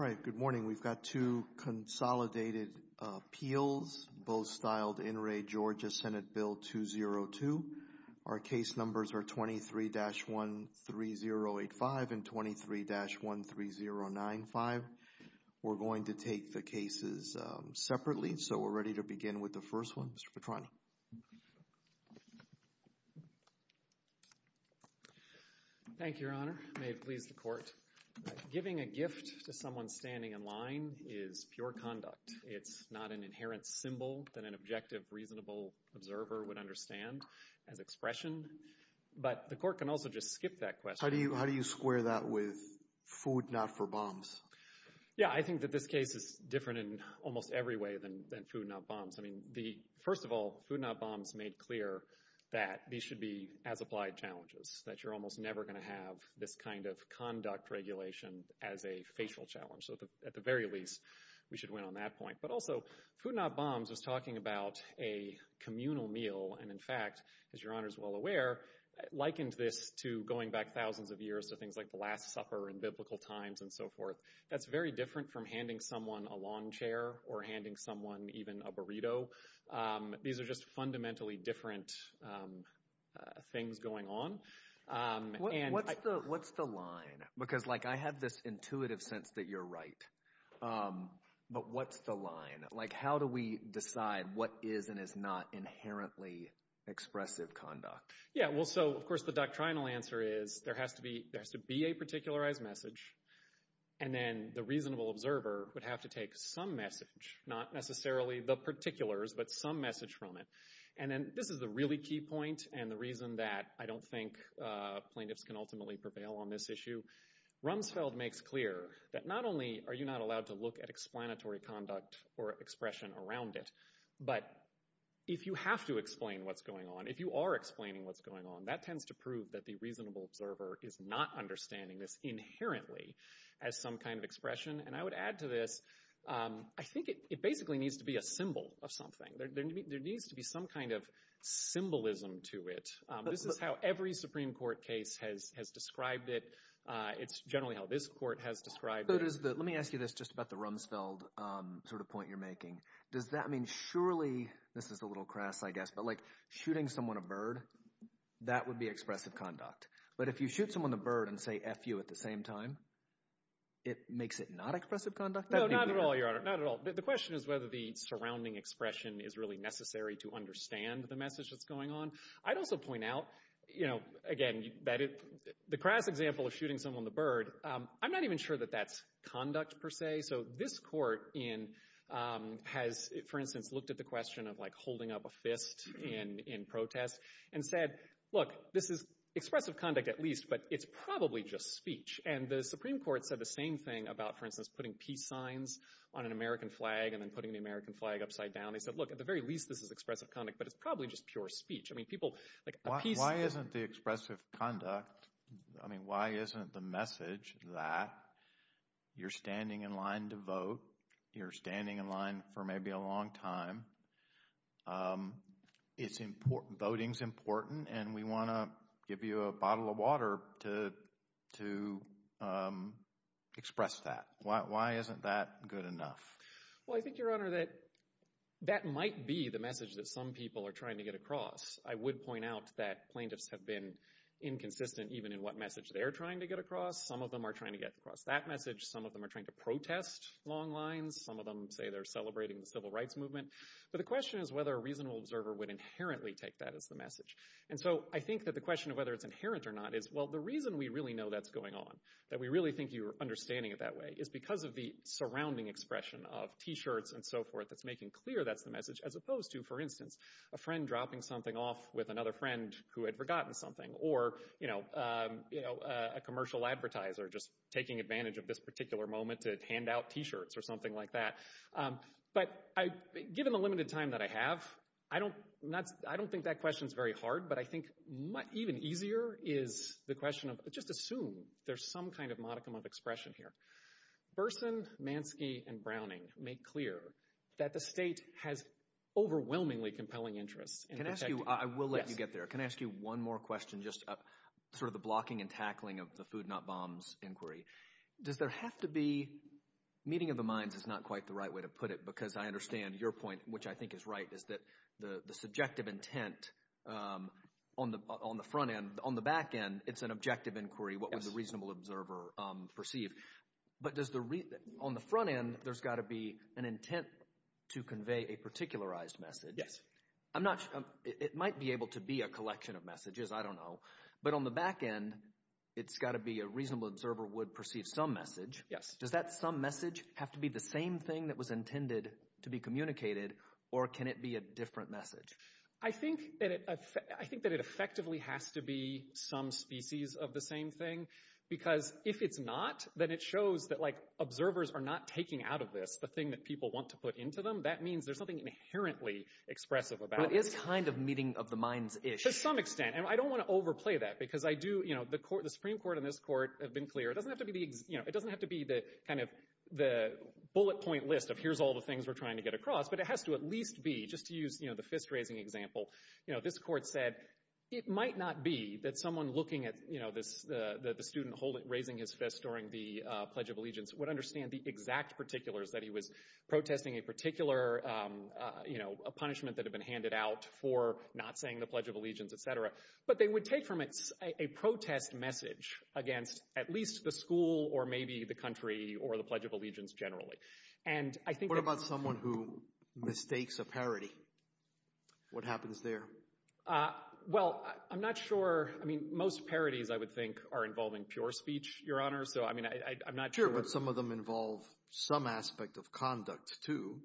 Our case numbers are 23-13085 and 23-13095 We're going to take the cases separately, so we're ready to begin with the first one, Mr. Petrano. Thank you, Your Honor. May it please the Court that I present to you, Mr. Petrano, the case number 23-13085. Giving a gift to someone standing in line is pure conduct. It's not an inherent symbol that an objective, reasonable observer would understand as expression. But the Court can also just skip that question. How do you square that with food not for bombs? Yeah, I think that this case is different in almost every way than food not bombs. First of all, food not bombs made clear that these should be as-applied challenges, that you're almost never going to have this kind of conduct regulation as a facial challenge. So at the very least, we should win on that point. But also, food not bombs is talking about a communal meal. And, in fact, as Your Honor is well aware, likened this to going back thousands of years to things like the Last Supper and biblical times and so forth. That's very different from handing someone a lawn chair or handing someone even a burrito. These are just fundamentally different things going on. What's the line? Because, like, I have this intuitive sense that you're right. But what's the line? Like, how do we decide what is and is not inherently expressive conduct? Yeah, well, so, of course, the doctrinal answer is there has to be a particularized message. And then the reasonable observer would have to take some message, not necessarily the particulars, but some message from it. And then this is a really key point and the reason that I don't think plaintiffs can ultimately prevail on this issue. Rumsfeld makes clear that not only are you not allowed to look at explanatory conduct or expression around it, but if you have to explain what's going on, if you are explaining what's going on, that tends to prove that the reasonable observer is not understanding this inherently as some kind of expression. And I would add to this, I think it basically needs to be a symbol of something. There needs to be some kind of symbolism to it. This is how every Supreme Court case has described it. It's generally how this court has described it. Let me ask you this just about the Rumsfeld sort of point you're making. Does that mean surely – this is a little crass I guess, but shooting someone a bird, that would be expressive conduct. But if you shoot someone a bird and say F you at the same time, it makes it not expressive conduct? No, not at all, Your Honor, not at all. The question is whether the surrounding expression is really necessary to understand the message that's going on. I'd also point out, again, that the crass example of shooting someone the bird, I'm not even sure that that's conduct per se. So this court has, for instance, looked at the question of holding up a fist in protest and said, look, this is expressive conduct at least, but it's probably just speech. And the Supreme Court said the same thing about, for instance, putting peace signs on an American flag and then putting the American flag upside down. They said, look, at the very least this is expressive conduct, but it's probably just pure speech. Why isn't the expressive conduct – I mean why isn't the message that you're standing in line to vote, you're standing in line for maybe a long time, voting is important, and we want to give you a bottle of water to express that. Why isn't that good enough? Well, I think, Your Honor, that that might be the message that some people are trying to get across. I would point out that plaintiffs have been inconsistent even in what message they're trying to get across. Some of them are trying to get across that message. Some of them are trying to protest long lines. Some of them say they're celebrating the civil rights movement. But the question is whether a reasonable observer would inherently take that as the message. And so I think that the question of whether it's inherent or not is, well, the reason we really know that's going on, that we really think you're understanding it that way, is because of the surrounding expression of T-shirts and so forth that's making clear that's the message, as opposed to, for instance, a friend dropping something off with another friend who had forgotten something, or a commercial advertiser just taking advantage of this particular moment to hand out T-shirts or something like that. But given the limited time that I have, I don't think that question is very hard, but I think even easier is the question of just assume there's some kind of modicum of expression here. Burson, Mansky, and Browning make clear that the state has overwhelmingly compelling interests. I will let you get there. Can I ask you one more question, just sort of the blocking and tackling of the Food Not Bombs inquiry? Does there have to be – meeting of the minds is not quite the right way to put it, because I understand your point, which I think is right, is that the subjective intent on the front end. On the back end, it's an objective inquiry. What would the reasonable observer perceive? But does the – on the front end, there's got to be an intent to convey a particularized message. It might be able to be a collection of messages. I don't know. But on the back end, it's got to be a reasonable observer would perceive some message. Yes. Does that some message have to be the same thing that was intended to be communicated, or can it be a different message? I think that it effectively has to be some species of the same thing, because if it's not, then it shows that observers are not taking out of this the thing that people want to put into them. That means there's something inherently expressive about it. But it's kind of meeting of the minds-ish. To some extent, and I don't want to overplay that because I do – the Supreme Court and this court have been clear. It doesn't have to be the kind of the bullet point list of here's all the things we're trying to get across, but it has to at least be, just to use the fist-raising example, this court said it might not be that someone looking at the student raising his fist during the Pledge of Allegiance would understand the exact particulars that he was protesting, a particular punishment that had been handed out for not saying the Pledge of Allegiance, et cetera. But they would take from it a protest message against at least the school or maybe the country or the Pledge of Allegiance generally. What about someone who mistakes a parody? What happens there? Well, I'm not sure. I mean most parodies I would think are involving pure speech, Your Honor, so I'm not sure. But some of them involve some aspect of conduct too.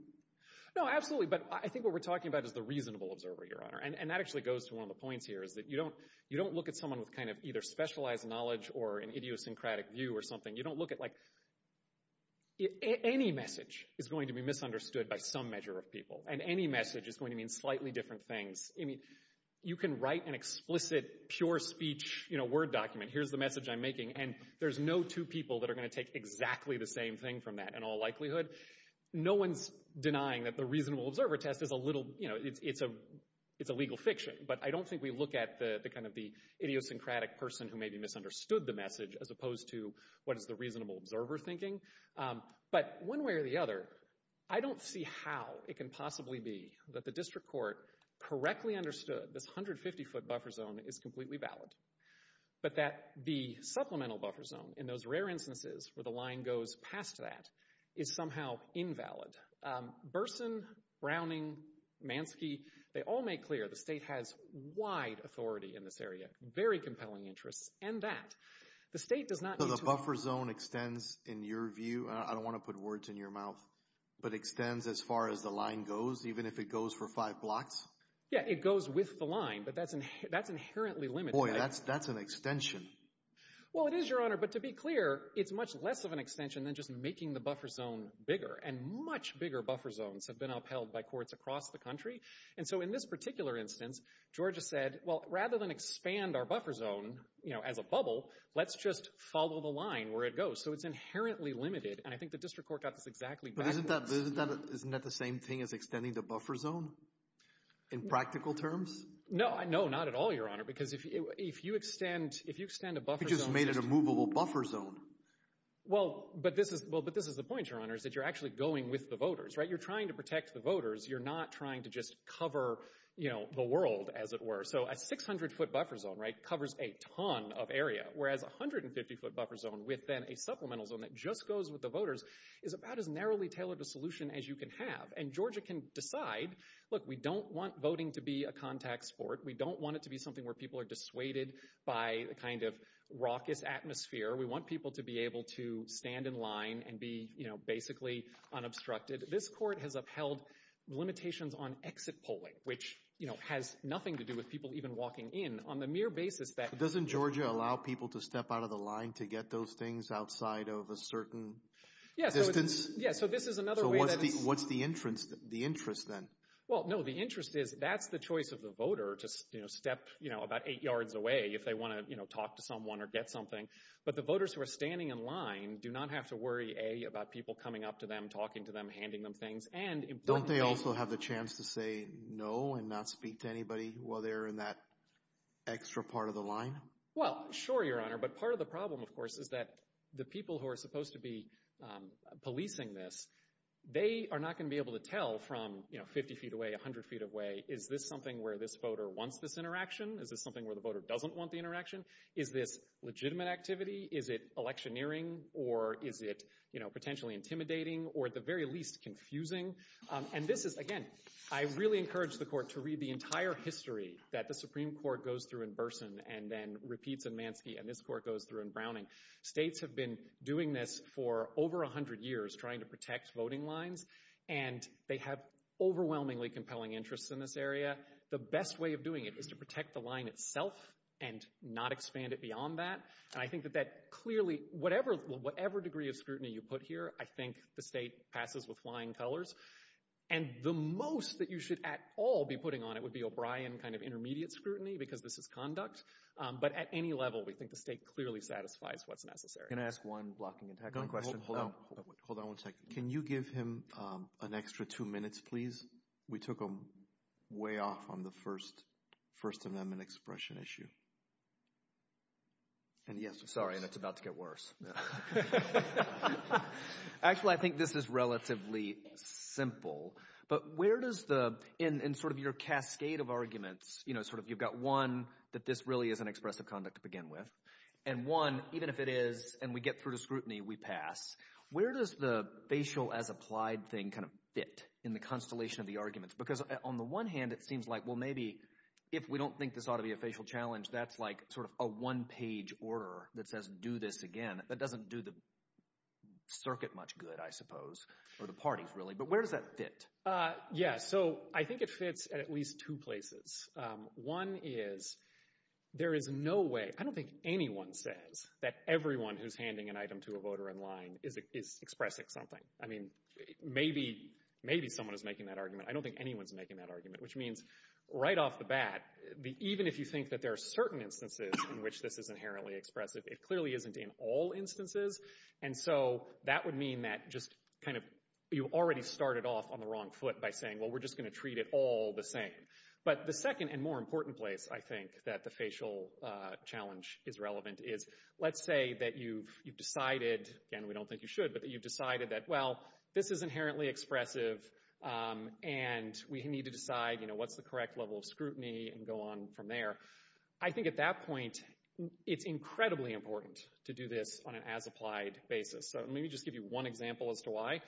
No, absolutely. But I think what we're talking about is the reasonable observer, Your Honor. And that actually goes to one of the points here, is that you don't look at someone with kind of either specialized knowledge or an idiosyncratic view or something. You don't look at like any message is going to be misunderstood by some measure of people, and any message is going to mean slightly different things. You can write an explicit pure speech Word document, here's the message I'm making, and there's no two people that are going to take exactly the same thing from that in all likelihood. No one's denying that the reasonable observer test is a little, you know, it's a legal fiction. But I don't think we look at the kind of the idiosyncratic person who maybe misunderstood the message as opposed to what is the reasonable observer thinking. But one way or the other, I don't see how it can possibly be that the district court correctly understood this 150-foot buffer zone is completely valid, but that the supplemental buffer zone in those rare instances where the line goes past that is somehow invalid. Burson, Browning, Mansky, they all make clear the state has wide authority in this area, very compelling interests, and that the state does not need to... So the buffer zone extends, in your view, I don't want to put words in your mouth, but extends as far as the line goes, even if it goes for five blocks? Yeah, it goes with the line, but that's inherently limited. Boy, that's an extension. Well, it is, Your Honor, but to be clear, it's much less of an extension than just making the buffer zone bigger. And much bigger buffer zones have been upheld by courts across the country. And so in this particular instance, Georgia said, well, rather than expand our buffer zone, you know, as a bubble, let's just follow the line where it goes. So it's inherently limited. And I think the district court got this exactly right. But isn't that the same thing as extending the buffer zone in practical terms? No, not at all, Your Honor. Because if you extend a buffer zone... You just made an immovable buffer zone. Well, but this is the point, Your Honor, is that you're actually going with the voters, right? You're trying to protect the voters. You're not trying to just cover, you know, the world, as it were. So a 600-foot buffer zone, right, covers a ton of area, whereas a 150-foot buffer zone within a supplemental zone that just goes with the voters is about as narrowly tailored a solution as you can have. And Georgia can decide, look, we don't want voting to be a contact sport. We don't want it to be something where people are dissuaded by the kind of rocket atmosphere. We want people to be able to stand in line and be, you know, basically unobstructed. This court has upheld limitations on exit polling, which, you know, has nothing to do with people even walking in on the mere basis that... Doesn't Georgia allow people to step out of the line to get those things outside of a certain distance? Yeah, so this is another way that... So what's the interest then? Well, no, the interest is that's the choice of the voter to step, you know, about eight yards away if they want to, you know, talk to someone or get something. But the voters who are standing in line do not have to worry, A, about people coming up to them, talking to them, handing them things. Don't they also have a chance to say no and not speak to anybody while they're in that extra part of the line? Well, sure, Your Honor, but part of the problem, of course, is that the people who are supposed to be policing this, they are not going to be able to tell from, you know, 50 feet away, 100 feet away, is this something where this voter wants this interaction? Is this something where the voter doesn't want the interaction? Is it legitimate activity? Is it electioneering? Or is it, you know, potentially intimidating or at the very least confusing? And this is, again, I really encourage the court to read the entire history that the Supreme Court goes through in Burson and then repeats in Mansky and this court goes through in Browning. States have been doing this for over 100 years, trying to protect voting lines, and they have overwhelmingly compelling interests in this area. The best way of doing it is to protect the line itself and not expand it beyond that. And I think that that clearly, whatever degree of scrutiny you put here, I think the state passes with flying colors. And the most that you should at all be putting on it would be O'Brien kind of intermediate scrutiny because this is conduct, but at any level we think the state clearly satisfies what's necessary. Can I ask one blocking and tackling question? Hold on one second. Can you give him an extra two minutes, please? We took way off on the first amendment expression issue. Sorry, and it's about to get worse. Actually, I think this is relatively simple. But where does the – in sort of your cascade of arguments, sort of you've got one, that this really isn't expressive conduct to begin with, and one, even if it is, and we get through to scrutiny, we pass. Where does the facial as applied thing kind of fit in the constellation of the arguments? Because on the one hand, it seems like, well, maybe if we don't think this ought to be a facial challenge, that's like sort of a one-page order that says do this again. That doesn't do the circuit much good, I suppose, or the parties really. But where does that fit? Yeah, so I think it fits at least two places. One is there is no way – I don't think anyone says that everyone who's handing an item to a voter in line is expressing something. I mean, maybe someone is making that argument. I don't think anyone is making that argument, which means right off the bat, even if you think that there are certain instances in which this is inherently expressive, it clearly isn't in all instances. And so that would mean that just kind of you already started off on the wrong foot by saying, well, we're just going to treat it all the same. But the second and more important place, I think, that the facial challenge is relevant is let's say that you've decided, and we don't think you should, but you've decided that, well, this is inherently expressive, and we need to decide what's the correct level of scrutiny and go on from there. I think at that point it's incredibly important to do this on an as-applied basis. So let me just give you one example as to why.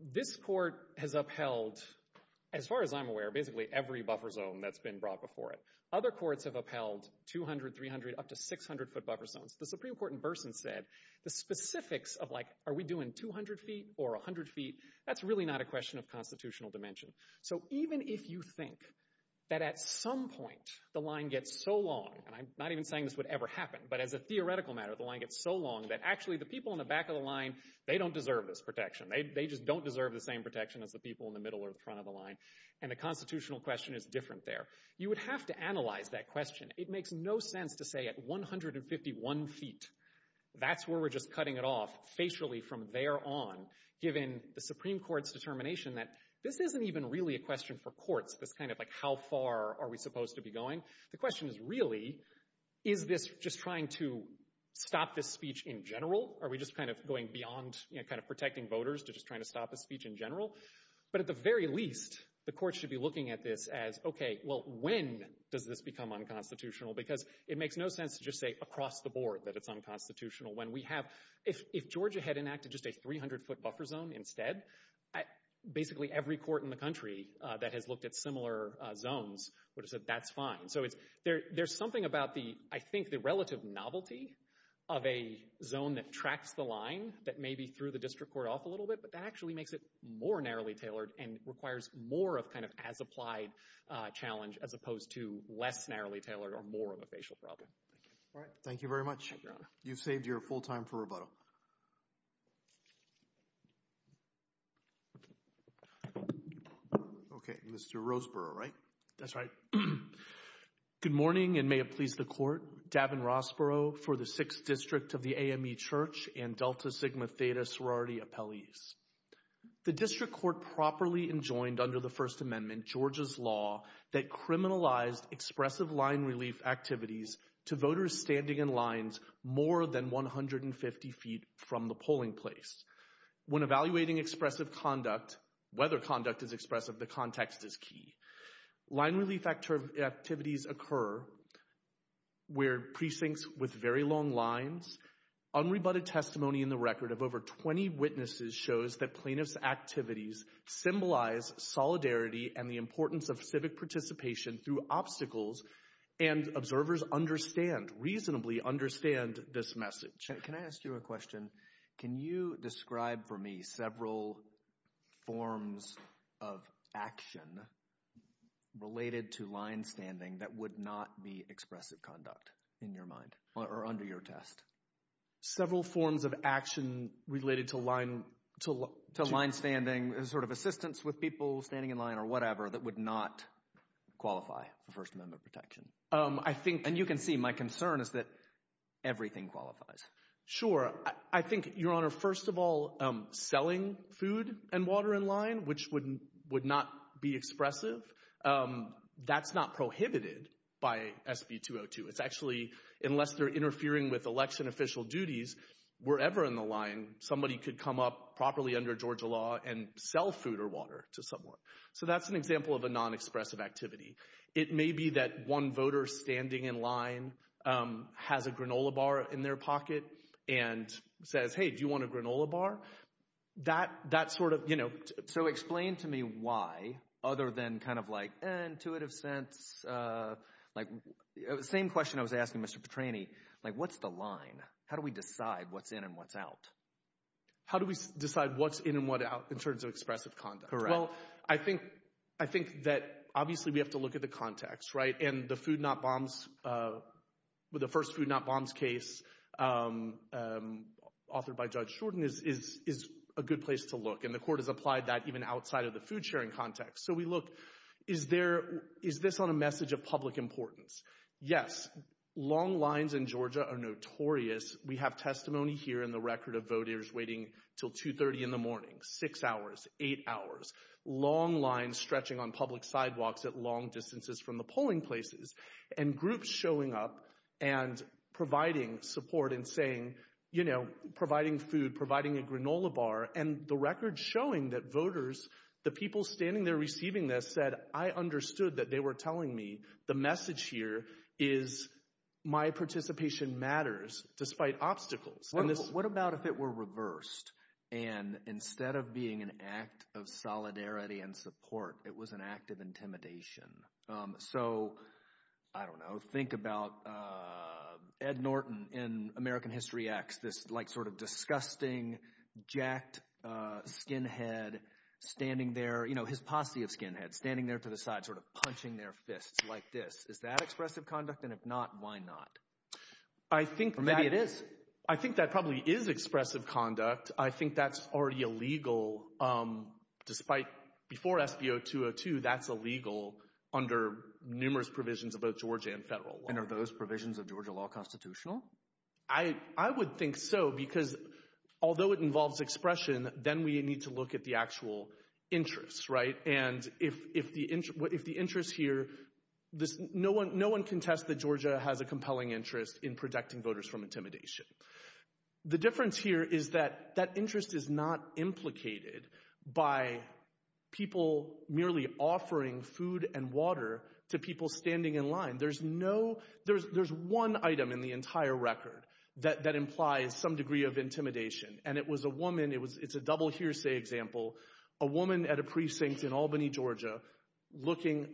This court has upheld, as far as I'm aware, basically every buffer zone that's been brought before it. Other courts have upheld 200, 300, up to 600-foot buffer zones. The Supreme Court in Burson said the specifics of like are we doing 200 feet or 100 feet, that's really not a question of constitutional dimension. So even if you think that at some point the line gets so long, and I'm not even saying this would ever happen, but as a theoretical matter the line gets so long that actually the people in the back of the line, they don't deserve this protection. They just don't deserve the same protection as the people in the middle or the front of the line, and the constitutional question is different there. You would have to analyze that question. It makes no sense to say at 151 feet, that's where we're just cutting it off facially from there on, given the Supreme Court's determination that this isn't even really a question for courts. It's kind of like how far are we supposed to be going. The question is really is this just trying to stop this speech in general? Are we just kind of going beyond kind of protecting voters to just trying to stop this speech in general? But at the very least, the court should be looking at this as, okay, well, when does this become unconstitutional? Because it makes no sense to just say across the board that it's unconstitutional. If Georgia had enacted just a 300-foot buffer zone instead, basically every court in the country that has looked at similar zones would have said that's fine. So there's something about the, I think, the relative novelty of a zone that tracks the line that maybe threw the district court off a little bit, but that actually makes it more narrowly tailored and requires more of kind of as-applied challenge as opposed to less narrowly tailored or more of a facial problem. All right, thank you very much. You've saved your full time for rebuttal. Okay, Mr. Roseborough, right? That's right. Good morning and may it please the Court. Gavin Rossborough for the 6th District of the AME Church and Delta Sigma Theta sorority appellees. The district court properly enjoined under the First Amendment, Georgia's law, that criminalized expressive line relief activities to voters standing in lines more than 150 feet from the polling place. When evaluating expressive conduct, whether conduct is expressive, the context is key. Line relief activities occur where precincts with very long lines. Unrebutted testimony in the record of over 20 witnesses shows that plaintiff's activities symbolize solidarity and the importance of civic participation through obstacles, and observers understand, reasonably understand this message. Can I ask you a question? Can you describe for me several forms of action related to line standing that would not be expressive conduct in your mind or under your test? Several forms of action related to line standing, sort of assistance with people standing in line or whatever, that would not qualify for First Amendment protection. And you can see my concern is that everything qualifies. Sure. I think, Your Honor, first of all, selling food and water in line, which would not be expressive, that's not prohibited by SB 202. It's actually, unless they're interfering with election official duties, wherever in the line, somebody could come up properly under Georgia law and sell food or water to someone. So that's an example of a non-expressive activity. It may be that one voter standing in line has a granola bar in their pocket and says, hey, do you want a granola bar? So explain to me why, other than kind of like intuitive sense, like the same question I was asking Mr. Petrani, like what's the line? How do we decide what's in and what's out? How do we decide what's in and what's out in terms of expressive conduct? Well, I think that obviously we have to look at the context, right? And the Food Not Bombs, the first Food Not Bombs case authored by Judge Shorten is a good place to look. And the court has applied that even outside of the food sharing context. So we look, is this on a message of public importance? Yes, long lines in Georgia are notorious. We have testimony here in the record of voters waiting until 2.30 in the morning, six hours, eight hours, long lines stretching on public sidewalks at long distances from the polling places, and groups showing up and providing support and saying, you know, providing food, providing a granola bar, and the record showing that voters, the people standing there receiving this said, I understood that they were telling me the message here is my participation matters. It matters despite obstacles. What about if it were reversed, and instead of being an act of solidarity and support, it was an act of intimidation? So I don't know. Think about Ed Norton in American History X, this sort of disgusting, jacked skinhead standing there, his posse of skinhead standing there to the side sort of punching their fist like this. Is that expressive conduct? And if not, why not? Maybe it is. I think that probably is expressive conduct. I think that's already illegal, despite before SB 0202, that's illegal under numerous provisions of both Georgia and federal law. And are those provisions of Georgia law constitutional? I would think so, because although it involves expression, then we need to look at the actual interests, right? And if the interest here, no one can test that Georgia has a compelling interest in protecting voters from intimidation. The difference here is that that interest is not implicated by people merely offering food and water to people standing in line. There's one item in the entire record that implies some degree of intimidation, and it was a woman. It's a double hearsay example. A woman at a precinct in Albany, Georgia,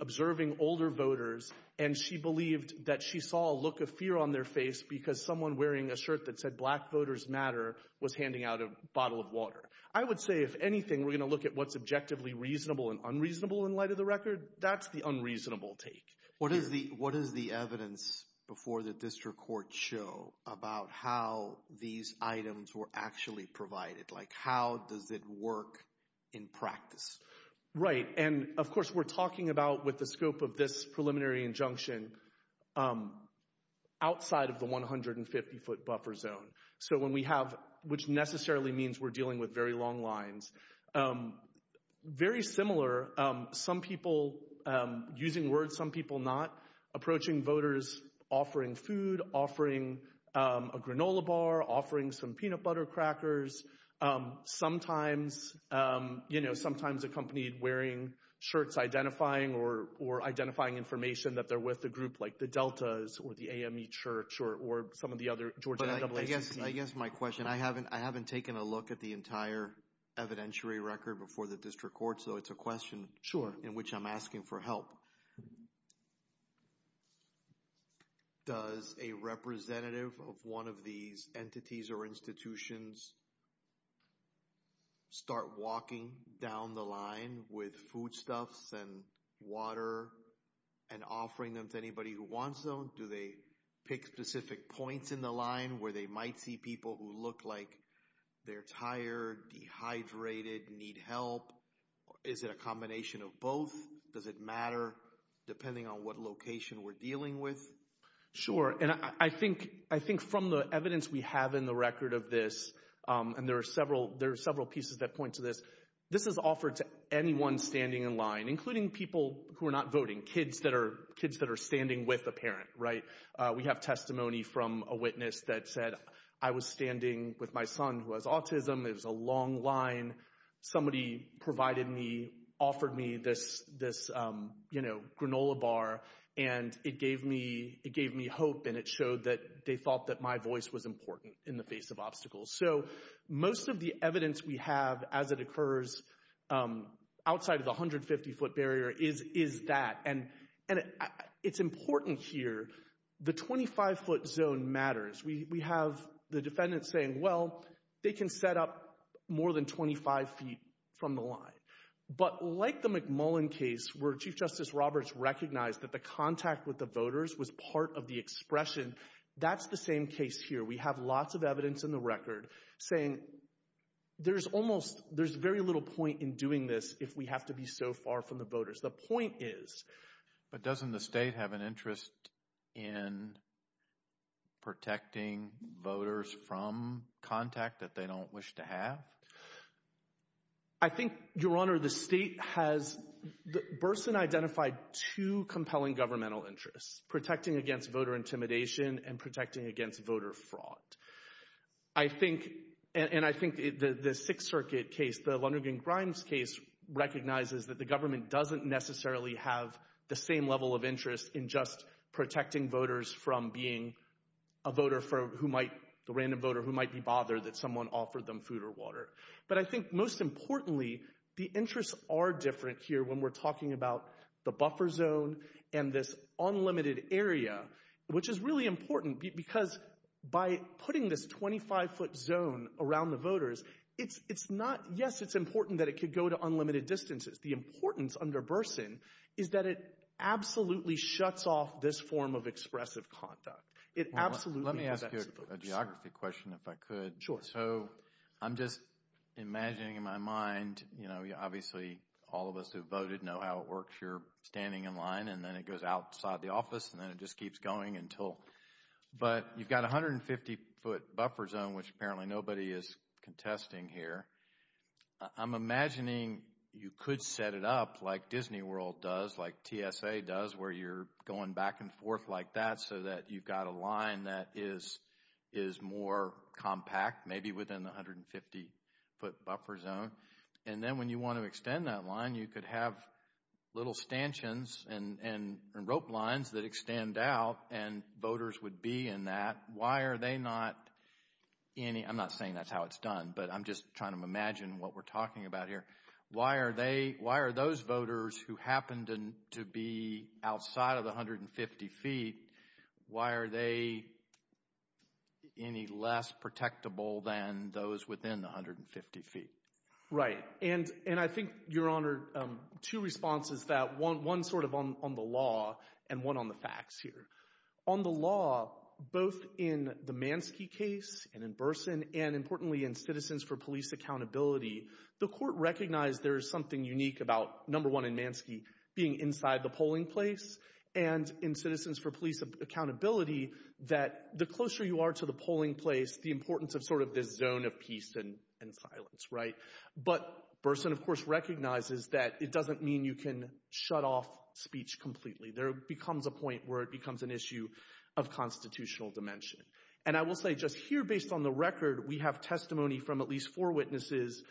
observing older voters, and she believed that she saw a look of fear on their face because someone wearing a shirt that said Black Voters Matter was handing out a bottle of water. I would say, if anything, we're going to look at what's objectively reasonable and unreasonable in light of the record. That's the unreasonable take. What does the evidence before the district court show about how these items were actually provided? Like how does it work in practice? Right. And, of course, we're talking about with the scope of this preliminary injunction outside of the 150-foot buffer zone, which necessarily means we're dealing with very long lines. Very similar, some people using words, some people not, approaching voters offering food, offering a granola bar, offering some peanut butter crackers, sometimes a company wearing shirts identifying or identifying information that they're with a group like the Deltas or the AME Church or some of the other Georgia NAACP. I guess my question, I haven't taken a look at the entire evidentiary record before the district court, so it's a question in which I'm asking for help. Does a representative of one of these entities or institutions start walking down the line with foodstuffs and water and offering them to anybody who wants them? Do they pick specific points in the line where they might see people who look like they're tired, dehydrated, need help? Is it a combination of both? Does it matter depending on what location we're dealing with? Sure. And I think from the evidence we have in the record of this, and there are several pieces that point to this, this is offered to anyone standing in line, including people who are not voting, kids that are standing with a parent. We have testimony from a witness that said, I was standing with my son who has autism. It was a long line. Somebody provided me, offered me this granola bar, and it gave me hope, and it showed that they thought that my voice was important in the face of obstacles. So most of the evidence we have as it occurs outside of the 150-foot barrier is that. And it's important here, the 25-foot zone matters. We have the defendant saying, well, they can set up more than 25 feet from the line. But like the McMullen case where Chief Justice Roberts recognized that the contact with the voters was part of the expression, that's the same case here. We have lots of evidence in the record saying there's almost, there's very little point in doing this if we have to be so far from the voters. The point is. But doesn't the state have an interest in protecting voters from contact that they don't wish to have? I think, Your Honor, the state has, Burson identified two compelling governmental interests, protecting against voter intimidation and protecting against voter fraud. I think, and I think the Sixth Circuit case, the Lonergan Grimes case, recognizes that the government doesn't necessarily have the same level of interest in just protecting voters from being a voter for who might, the random voter who might be bothered that someone offered them food or water. But I think most importantly, the interests are different here when we're talking about the buffer zone and this unlimited area, which is really important because by putting this 25-foot zone around the voters, it's not, yes, it's important that it could go to unlimited distances. The importance under Burson is that it absolutely shuts off this form of expressive conduct. Let me ask you a geography question if I could. So I'm just imagining in my mind, obviously all of us who voted know how it works. You're standing in line, and then it goes outside the office, and then it just keeps going until – but you've got a 150-foot buffer zone, which apparently nobody is contesting here. I'm imagining you could set it up like Disney World does, like TSA does, where you're going back and forth like that so that you've got a line that is more compact, maybe within the 150-foot buffer zone. And then when you want to extend that line, you could have little stanchions and rope lines that extend out, and voters would be in that. Why are they not – I'm not saying that's how it's done, but I'm just trying to imagine what we're talking about here. Why are those voters who happen to be outside of the 150 feet, why are they any less protectable than those within the 150 feet? Right, and I think, Your Honor, two responses to that, one sort of on the law and one on the facts here. On the law, both in the Mansky case and in Burson, and importantly in Citizens for Police Accountability, the court recognized there is something unique about number one in Mansky being inside the polling place, and in Citizens for Police Accountability that the closer you are to the polling place, the importance of sort of the zone of peace and silence. But Burson, of course, recognizes that it doesn't mean you can shut off speech completely. There becomes a point where it becomes an issue of constitutional dimension. And I will say just here, based on the record, we have testimony from at least four witnesses,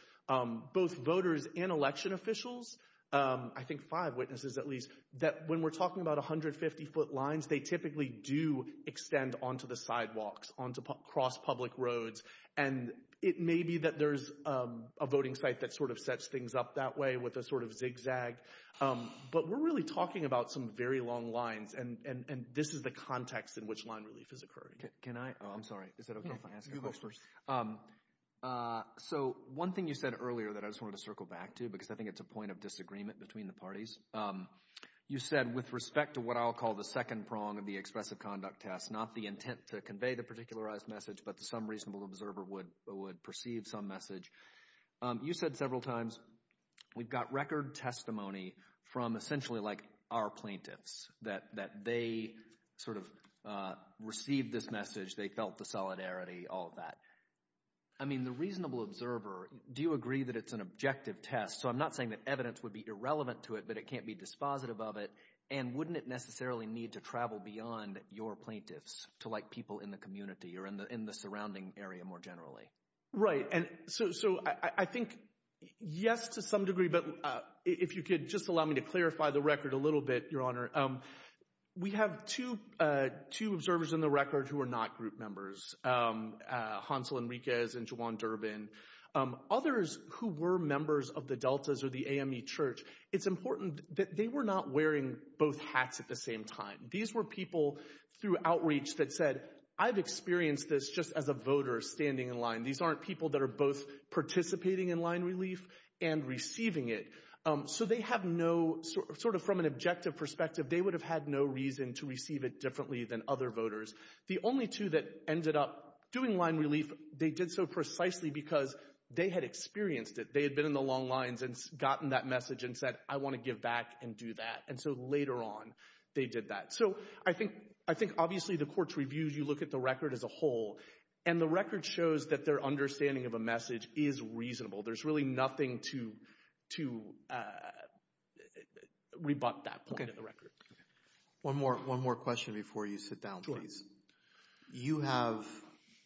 both voters and election officials, I think five witnesses at least, that when we're talking about 150-foot lines, they typically do extend onto the sidewalks, onto cross public roads, and it may be that there's a voting site that sort of sets things up that way with a sort of zigzag. But we're really talking about some very long lines, and this is the context in which line relief has occurred. Can I – oh, I'm sorry. Is it okay if I ask a few questions? So one thing you said earlier that I just wanted to circle back to because I think it's a point of disagreement between the parties, you said with respect to what I'll call the second prong of the expressive conduct test, not the intent to convey the particularized message, but some reasonable observer would perceive some message. You said several times we've got record testimony from essentially like our plaintiffs, that they sort of received this message, they felt the solidarity, all of that. I mean the reasonable observer, do you agree that it's an objective test? So I'm not saying that evidence would be irrelevant to it, but it can't be dispositive of it, and wouldn't it necessarily need to travel beyond your plaintiffs to like people in the community or in the surrounding area more generally? Right, and so I think yes to some degree, but if you could just allow me to clarify the record a little bit, Your Honor. We have two observers in the record who are not group members, Hansel Enriquez and Juwan Durbin. Others who were members of the Deltas or the AME Church, it's important that they were not wearing both hats at the same time. These were people through outreach that said, I've experienced this just as a voter standing in line. These aren't people that are both participating in line relief and receiving it. So they have no sort of from an objective perspective, they would have had no reason to receive it differently than other voters. The only two that ended up doing line relief, they did so precisely because they had experienced it. They had been in the long lines and gotten that message and said, I want to give back and do that. And so later on they did that. So I think obviously the court's review, you look at the record as a whole, and the record shows that their understanding of a message is reasonable. There's really nothing to rebut that point in the record. One more question before you sit down, please. You have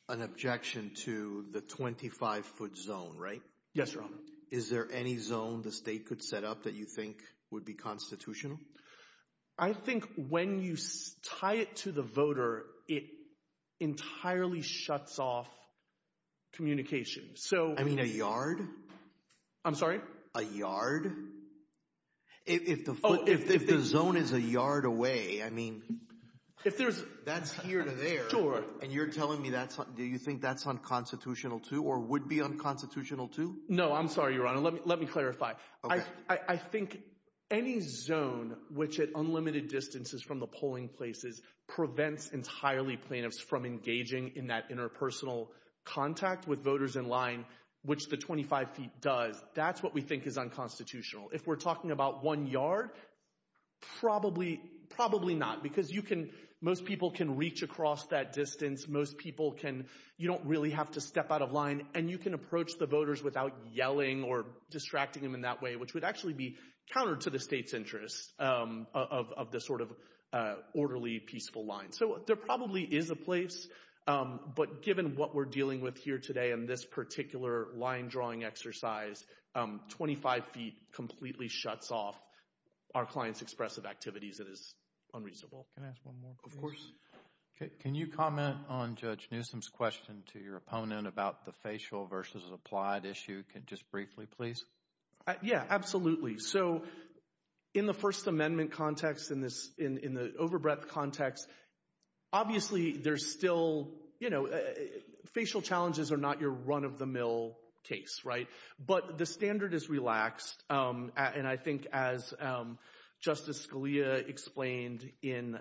an objection to the 25-foot zone, right? Yes, Your Honor. Is there any zone the state could set up that you think would be constitutional? I think when you tie it to the voter, it entirely shuts off communication. I mean a yard? I'm sorry? A yard? If the zone is a yard away, I mean that's here to there. Sure. And you're telling me that's – do you think that's unconstitutional too or would be unconstitutional too? No, I'm sorry, Your Honor. Let me clarify. I think any zone which at unlimited distances from the polling places prevents entirely plaintiffs from engaging in that interpersonal contact with voters in line, which the 25 feet does, that's what we think is unconstitutional. If we're talking about one yard, probably not, because you can – most people can reach across that distance. Most people can – you don't really have to step out of line, and you can approach the voters without yelling or distracting them in that way, which would actually be counter to the state's interests of the sort of orderly, peaceful line. So there probably is a place, but given what we're dealing with here today in this particular line-drawing exercise, 25 feet completely shuts off our clients' expressive activities. It is unreasonable. Can I ask one more question? Of course. Can you comment on Judge Newsom's question to your opponent about the facial versus applied issue just briefly, please? Yeah, absolutely. So in the First Amendment context, in the overbreadth context, obviously there's still – facial challenges are not your run-of-the-mill case, right? But the standard is relaxed, and I think as Justice Scalia explained in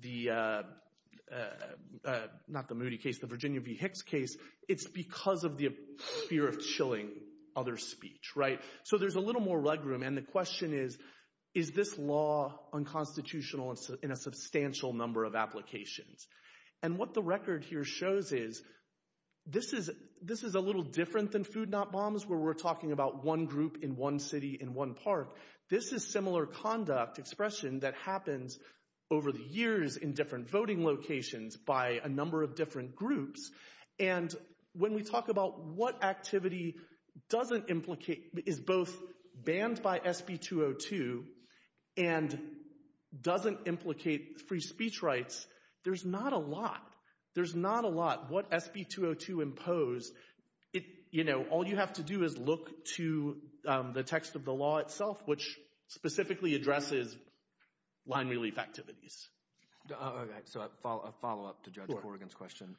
the – not the Moody case, the Virginia v. Hicks case, it's because of the fear of chilling other speech, right? So there's a little more leg room, and the question is, is this law unconstitutional in a substantial number of applications? And what the record here shows is this is a little different than Food Not Bombs, where we're talking about one group in one city in one park. This is similar conduct expression that happens over the years in different voting locations by a number of different groups. And when we talk about what activity doesn't implicate – is both banned by SB 202 and doesn't implicate free speech rights, there's not a lot. There's not a lot. What SB 202 imposed, all you have to do is look to the text of the law itself, which specifically addresses line relief activities. All right, so a follow-up to Judge Corrigan's question.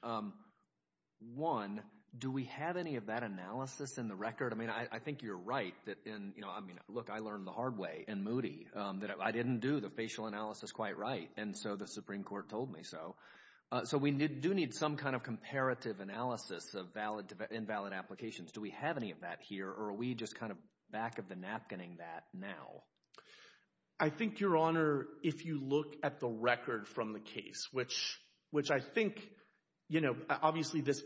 One, do we have any of that analysis in the record? I mean I think you're right that – look, I learned the hard way in Moody that I didn't do the facial analysis quite right, and so the Supreme Court told me so. So we do need some kind of comparative analysis of invalid applications. Do we have any of that here, or are we just kind of back of the napkinning that now? I think, Your Honor, if you look at the record from the case, which I think obviously this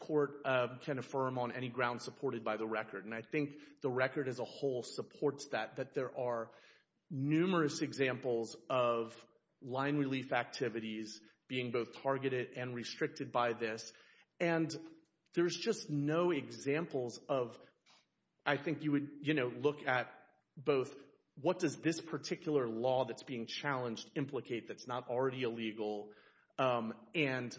court can affirm on any ground supported by the record, and I think the record as a whole supports that, that there are numerous examples of line relief activities being both targeted and restricted by this. And there's just no examples of – I think you would look at both what does this particular law that's being challenged implicate that's not already illegal, and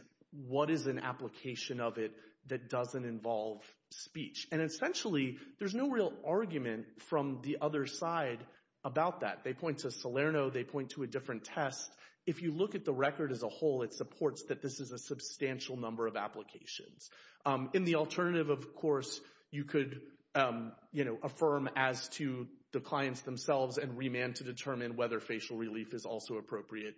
what is an application of it that doesn't involve speech. And essentially there's no real argument from the other side about that. They point to Salerno. They point to a different test. If you look at the record as a whole, it supports that this is a substantial number of applications. And the alternative, of course, you could affirm as to the clients themselves and remand to determine whether facial relief is also appropriate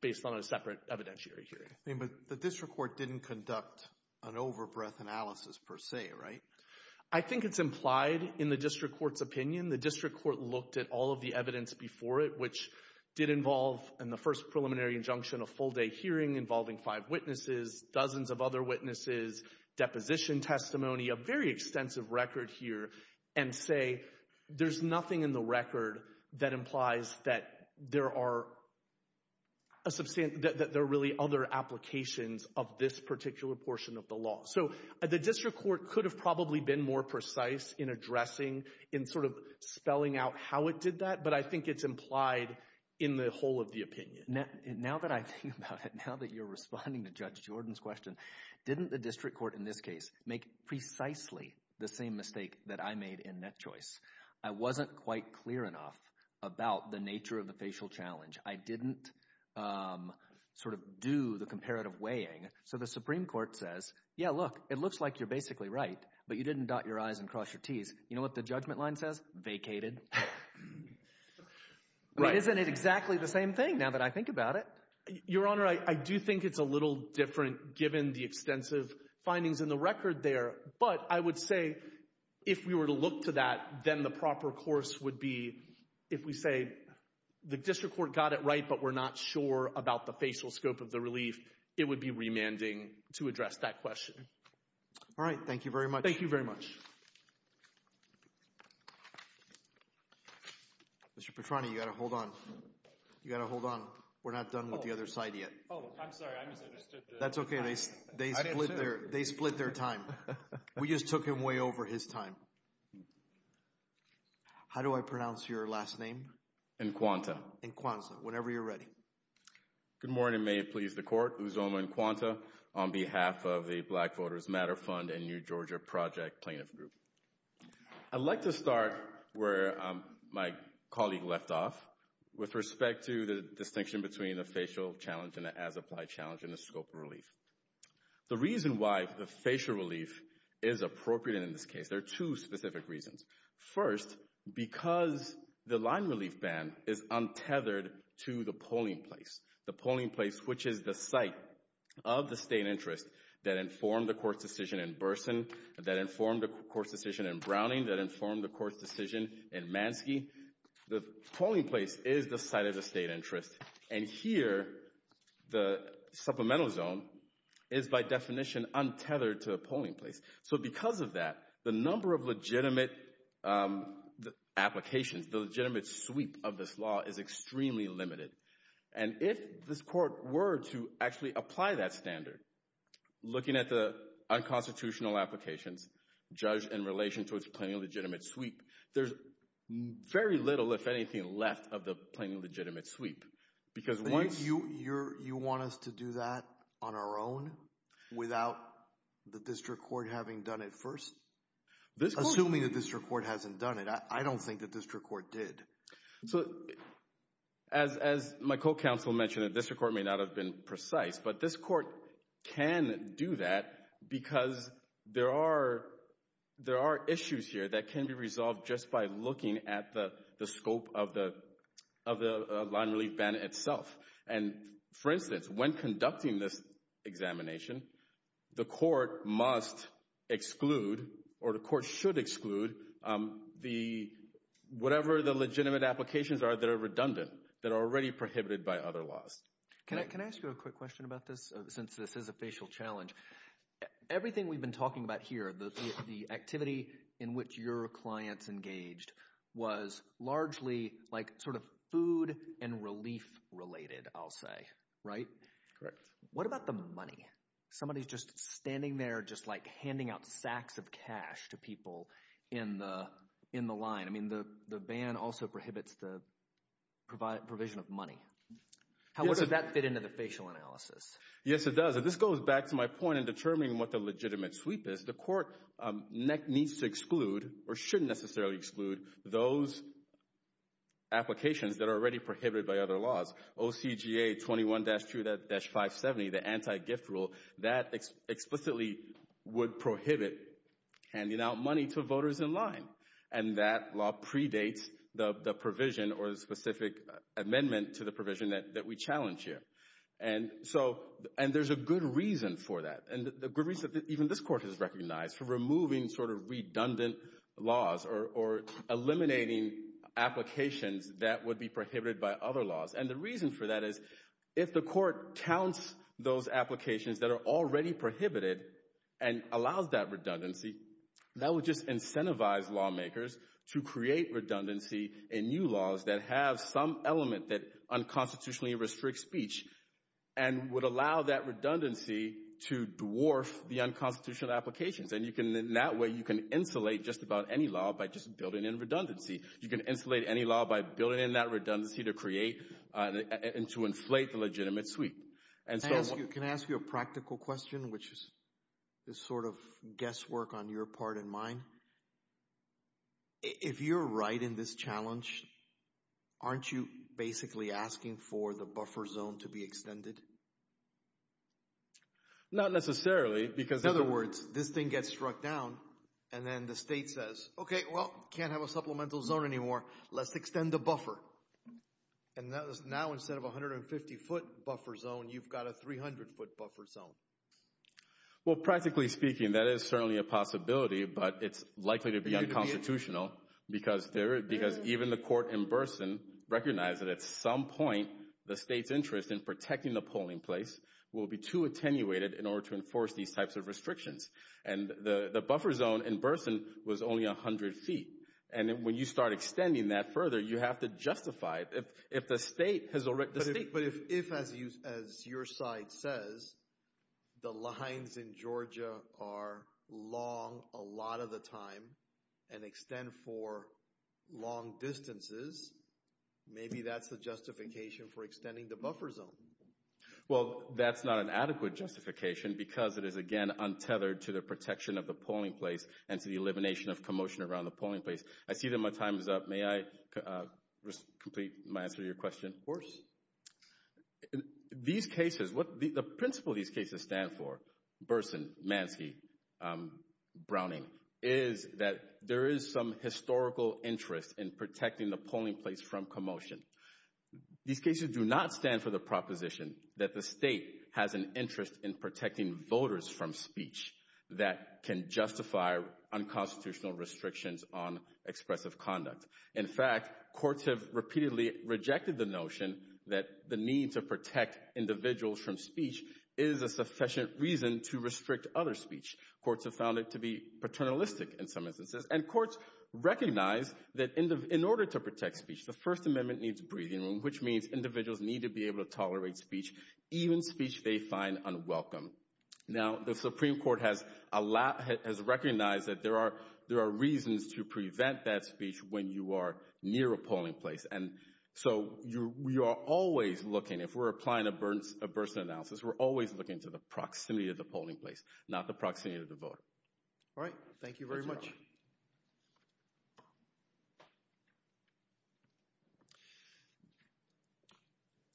based on a separate evidentiary hearing. But the district court didn't conduct an over-breath analysis per se, right? I think it's implied in the district court's opinion. The district court looked at all of the evidence before it, which did involve in the first preliminary injunction a full-day hearing involving five witnesses, dozens of other witnesses, deposition testimony, a very extensive record here, and say there's nothing in the record that implies that there are really other applications of this particular portion of the law. So the district court could have probably been more precise in addressing and sort of spelling out how it did that, but I think it's implied in the whole of the opinion. Now that I think about it, now that you're responding to Judge Jordan's question, didn't the district court in this case make precisely the same mistake that I made in NetChoice? I wasn't quite clear enough about the nature of the facial challenge. I didn't sort of do the comparative weighing. So the Supreme Court says, yeah, look, it looks like you're basically right, but you didn't dot your I's and cross your T's. You know what the judgment line says? Vacated. Isn't it exactly the same thing now that I think about it? Your Honor, I do think it's a little different given the extensive findings in the record there, but I would say if we were to look to that, then the proper course would be if we say the district court got it right, but we're not sure about the facial scope of the relief, it would be remanding to address that question. All right. Thank you very much. Thank you very much. Mr. Petrani, you've got to hold on. You've got to hold on. We're not done with the other side yet. Oh, I'm sorry. That's okay. They split their time. We just took him way over his time. How do I pronounce your last name? Encuanta. Encuanta. Whenever you're ready. Good morning. May it please the Court. Uzoma Encuanta on behalf of the Black Voters Matter Fund and New Georgia Project Plaintiff Group. I'd like to start where my colleague left off with respect to the distinction between a facial challenge and an as-applied challenge in the scope of relief. The reason why the facial relief is appropriate in this case, there are two specific reasons. First, because the line relief ban is untethered to the polling place, the polling place which is the site of the state interest that informed the court's decision in Burson, that informed the court's decision in Browning, that informed the court's decision in Mansky. The polling place is the site of the state interest. And here, the supplemental zone is, by definition, untethered to a polling place. So because of that, the number of legitimate applications, the legitimate sweep of this law is extremely limited. And if this court were to actually apply that standard, looking at the unconstitutional application judged in relation to its plain and legitimate sweep, there's very little, if anything, left of the plain and legitimate sweep. You want us to do that on our own without the district court having done it first? Assuming the district court hasn't done it, I don't think the district court did. So as my co-counsel mentioned, the district court may not have been precise, but this court can do that because there are issues here that can be resolved just by looking at the scope of the line relief ban itself. And, for instance, when conducting this examination, the court must exclude or the court should exclude whatever the legitimate applications are that are redundant, that are already prohibited by other laws. Can I ask you a quick question about this since this is a facial challenge? Everything we've been talking about here, the activity in which your clients engaged, was largely sort of food and relief related I'll say, right? Correct. What about the money? Somebody is just standing there just handing out sacks of cash to people in the line. I mean the ban also prohibits the provision of money. How much does that fit into the facial analysis? Yes, it does. And this goes back to my point in determining what the legitimate sweep is. The court needs to exclude or shouldn't necessarily exclude those applications that are already prohibited by other laws. OCGA 21-2-570, the anti-gift rule, that explicitly would prohibit handing out money to voters in line. And that law predates the provision or the specific amendment to the provision that we challenge here. And there's a good reason for that. And the good reason that even this court has recognized for removing sort of redundant laws or eliminating applications that would be prohibited by other laws. And the reason for that is if the court counts those applications that are already prohibited and allows that redundancy, that would just incentivize lawmakers to create redundancy in new laws that have some element that unconstitutionally restricts speech and would allow that redundancy to dwarf the unconstitutional applications. And that way you can insulate just about any law by just building in redundancy. You can insulate any law by building in that redundancy to create and to inflate the legitimate sweep. Can I ask you a practical question, which is sort of guesswork on your part and mine? If you're right in this challenge, aren't you basically asking for the buffer zone to be extended? Not necessarily. In other words, this thing gets struck down, and then the state says, okay, well, can't have a supplemental zone anymore. Let's extend the buffer. And now instead of a 150-foot buffer zone, you've got a 300-foot buffer zone. Well, practically speaking, that is certainly a possibility, but it's likely to be unconstitutional because even the court in Burson recognized that at some point the state's interest in protecting the polling place will be too attenuated in order to enforce these types of restrictions. And the buffer zone in Burson was only 100 feet. And when you start extending that further, you have to justify it. But if, as your side says, the lines in Georgia are long a lot of the time and extend for long distances, maybe that's a justification for extending the buffer zone. Well, that's not an adequate justification because it is, again, untethered to the protection of the polling place and to the elimination of commotion around the polling place. I see that my time is up. May I complete my answer to your question? Of course. These cases, the principle these cases stand for, Burson, Mansi, Browning, is that there is some historical interest in protecting the polling place from commotion. These cases do not stand for the proposition that the state has an interest in protecting voters from speech that can justify unconstitutional restrictions on expressive conduct. In fact, courts have repeatedly rejected the notion that the need to protect individuals from speech is a sufficient reason to restrict other speech. Courts have found it to be paternalistic in some instances. And courts recognize that in order to protect speech, the First Amendment needs breathing room, which means individuals need to be able to tolerate speech, even speech they find unwelcome. Now, the Supreme Court has recognized that there are reasons to prevent that speech when you are near a polling place. And so we are always looking, if we're applying a Burson analysis, we're always looking to the proximity of the polling place, not the proximity of the voter. All right. Thank you very much.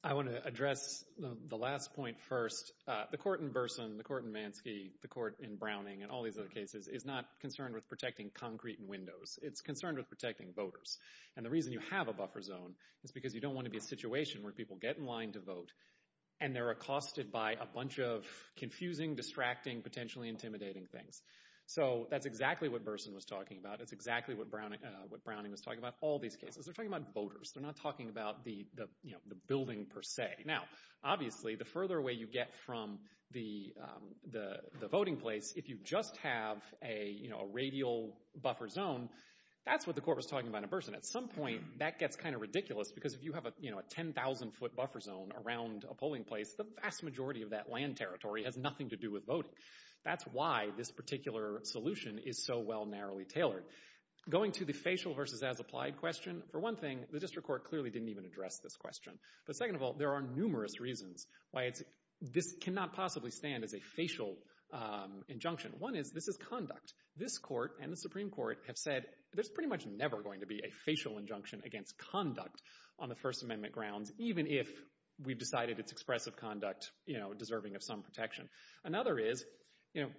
I want to address the last point first. The court in Burson, the court in Mansky, the court in Browning and all these other cases is not concerned with protecting concrete and windows. It's concerned with protecting voters. And the reason you have a buffer zone is because you don't want to be in a situation where people get in line to vote and they're accosted by a bunch of confusing, distracting, potentially intimidating things. So that's exactly what Burson was talking about. That's exactly what Browning was talking about. All these cases, they're talking about voters. They're not talking about the building per se. Now, obviously, the further away you get from the voting place, if you just have a radial buffer zone, that's what the court was talking about in Burson. At some point, that gets kind of ridiculous because if you have a 10,000-foot buffer zone around a polling place, the vast majority of that land territory has nothing to do with voting. That's why this particular solution is so well narrowly tailored. Going to the facial versus as applied question, for one thing, the district court clearly didn't even address this question. But second of all, there are numerous reasons why this cannot possibly stand as a facial injunction. One is this is conduct. This court and the Supreme Court have said there's pretty much never going to be a facial injunction against conduct on the First Amendment ground, even if we decided it's expressive conduct, you know, deserving of some protection. Another is, you know,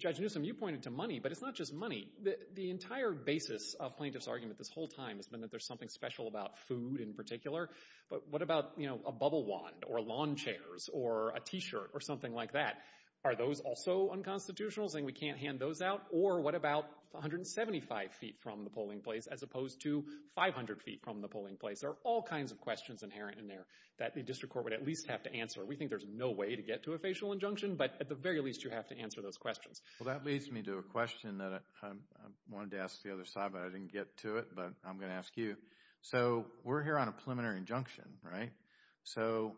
Judge Newsom, you pointed to money, but it's not just money. The entire basis of plaintiff's argument this whole time has been that there's something special about food in particular. But what about, you know, a bubble wand or lawn chairs or a T-shirt or something like that? Are those also unconstitutional, saying we can't hand those out? Or what about 175 feet from the polling place as opposed to 500 feet from the polling place? There are all kinds of questions inherent in there that the district court would at least have to answer. We think there's no way to get to a facial injunction, but at the very least, you have to answer those questions. Well, that leads me to a question that I wanted to ask the other side, but I didn't get to it, but I'm going to ask you. So we're here on a preliminary injunction, right? So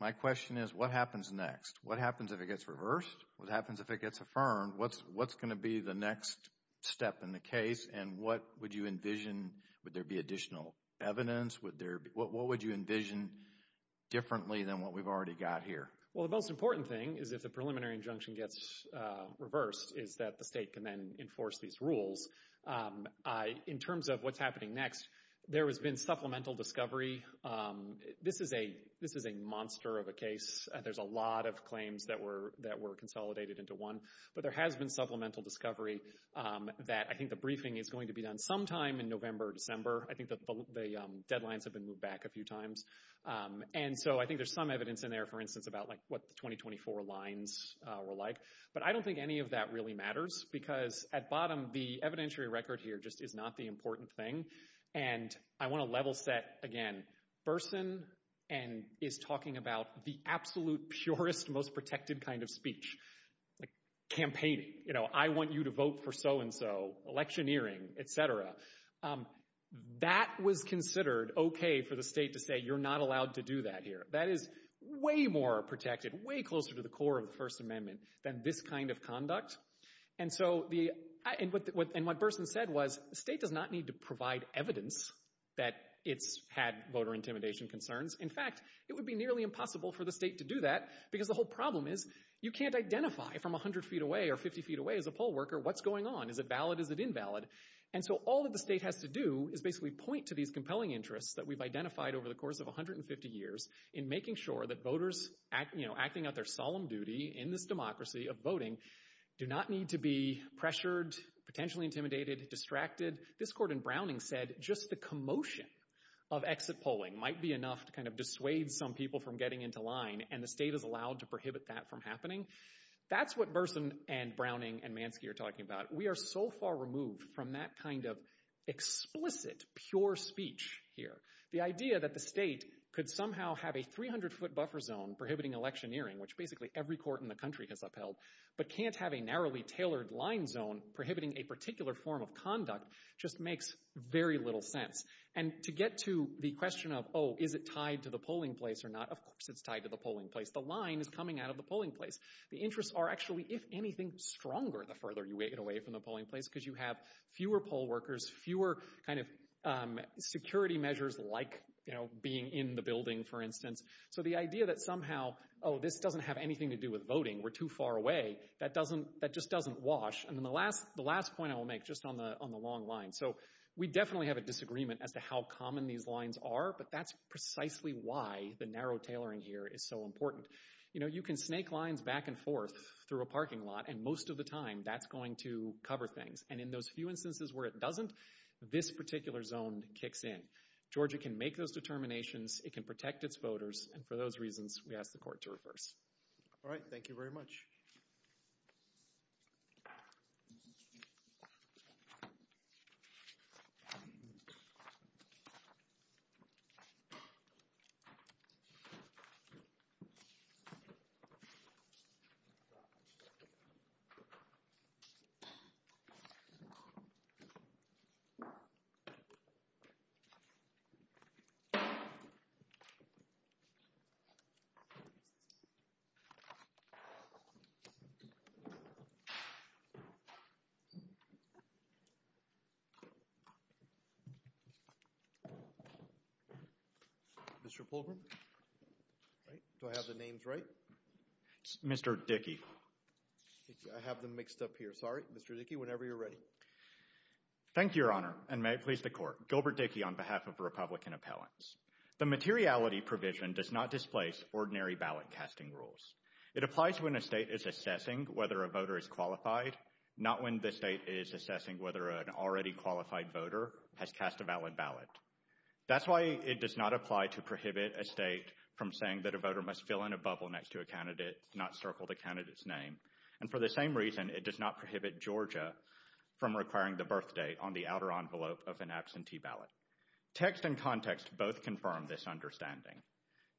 my question is, what happens next? What happens if it gets reversed? What happens if it gets affirmed? What's going to be the next step in the case, and what would you envision? Would there be additional evidence? What would you envision differently than what we've already got here? Well, the most important thing is if the preliminary injunction gets reversed is that the state can then enforce these rules. In terms of what's happening next, there has been supplemental discovery. This is a monster of a case, and there's a lot of claims that were consolidated into one, but there has been supplemental discovery that I think the briefing is going to be done sometime in November or December. I think the deadlines have been moved back a few times. And so I think there's some evidence in there, for instance, about what the 2024 lines were like, but I don't think any of that really matters because, at bottom, the evidentiary record here just is not the important thing. And I want to level set again. Berson is talking about the absolute purest, most protected kind of speech, like campaigning. You know, I want you to vote for so-and-so, electioneering, et cetera. That was considered okay for the state to say, you're not allowed to do that here. That is way more protected, way closer to the core of the First Amendment than this kind of conduct. And so what Berson said was the state does not need to provide evidence that it's had voter intimidation concerns. In fact, it would be nearly impossible for the state to do that because the whole problem is you can't identify from 100 feet away or 50 feet away as a poll worker what's going on. Is it valid? Is it invalid? And so all that the state has to do is basically point to these compelling interests that we've identified over the course of 150 years in making sure that voters acting on their solemn duty in this democracy of voting do not need to be pressured, potentially intimidated, distracted. This, Gordon Browning said, just the commotion of exit polling might be enough to kind of dissuade some people from getting into line, and the state is allowed to prohibit that from happening. That's what Berson and Browning and Mansfield are talking about. We are so far removed from that kind of explicit, pure speech here. The idea that the state could somehow have a 300-foot buffer zone prohibiting electioneering, which basically every court in the country has upheld, but can't have a narrowly tailored line zone prohibiting a particular form of conduct just makes very little sense. And to get to the question of, oh, is it tied to the polling place or not, of course it's tied to the polling place. The line is coming out of the polling place. The interests are actually, if anything, stronger the further you get away from the polling place because you have fewer poll workers, fewer kind of security measures like being in the building, for instance. So the idea that somehow, oh, this doesn't have anything to do with voting, we're too far away, that just doesn't wash. And the last point I will make, just on the long line, so we definitely have a disagreement as to how common these lines are, but that's precisely why the narrow tailoring here is so important. You know, you can snake lines back and forth through a parking lot, and most of the time that's going to cover things. And in those few instances where it doesn't, this particular zone kicks in. Georgia can make those determinations. It can protect its voters. And for those reasons, we ask the court to reverse. All right, thank you very much. Mr. Pullman. I have the names right. Mr. Dickey. I have them mixed up here. Sorry, Mr. Dickey, whenever you're ready. Thank you, Your Honor, and may it please the court. Gilbert Dickey on behalf of the Republican appellants. The materiality provision does not displace ordinary ballot casting rules. It applies when a state is assessing whether a voter is qualified, not when the state is assessing whether an already qualified voter has cast a valid ballot. That's why it does not apply to prohibit a state from saying that a voter must fill in a bubble next to a candidate, not circle the candidate's name. And for the same reason, it does not prohibit Georgia from requiring the birth date on the outer envelope of an absentee ballot. Text and context both confirm this understanding.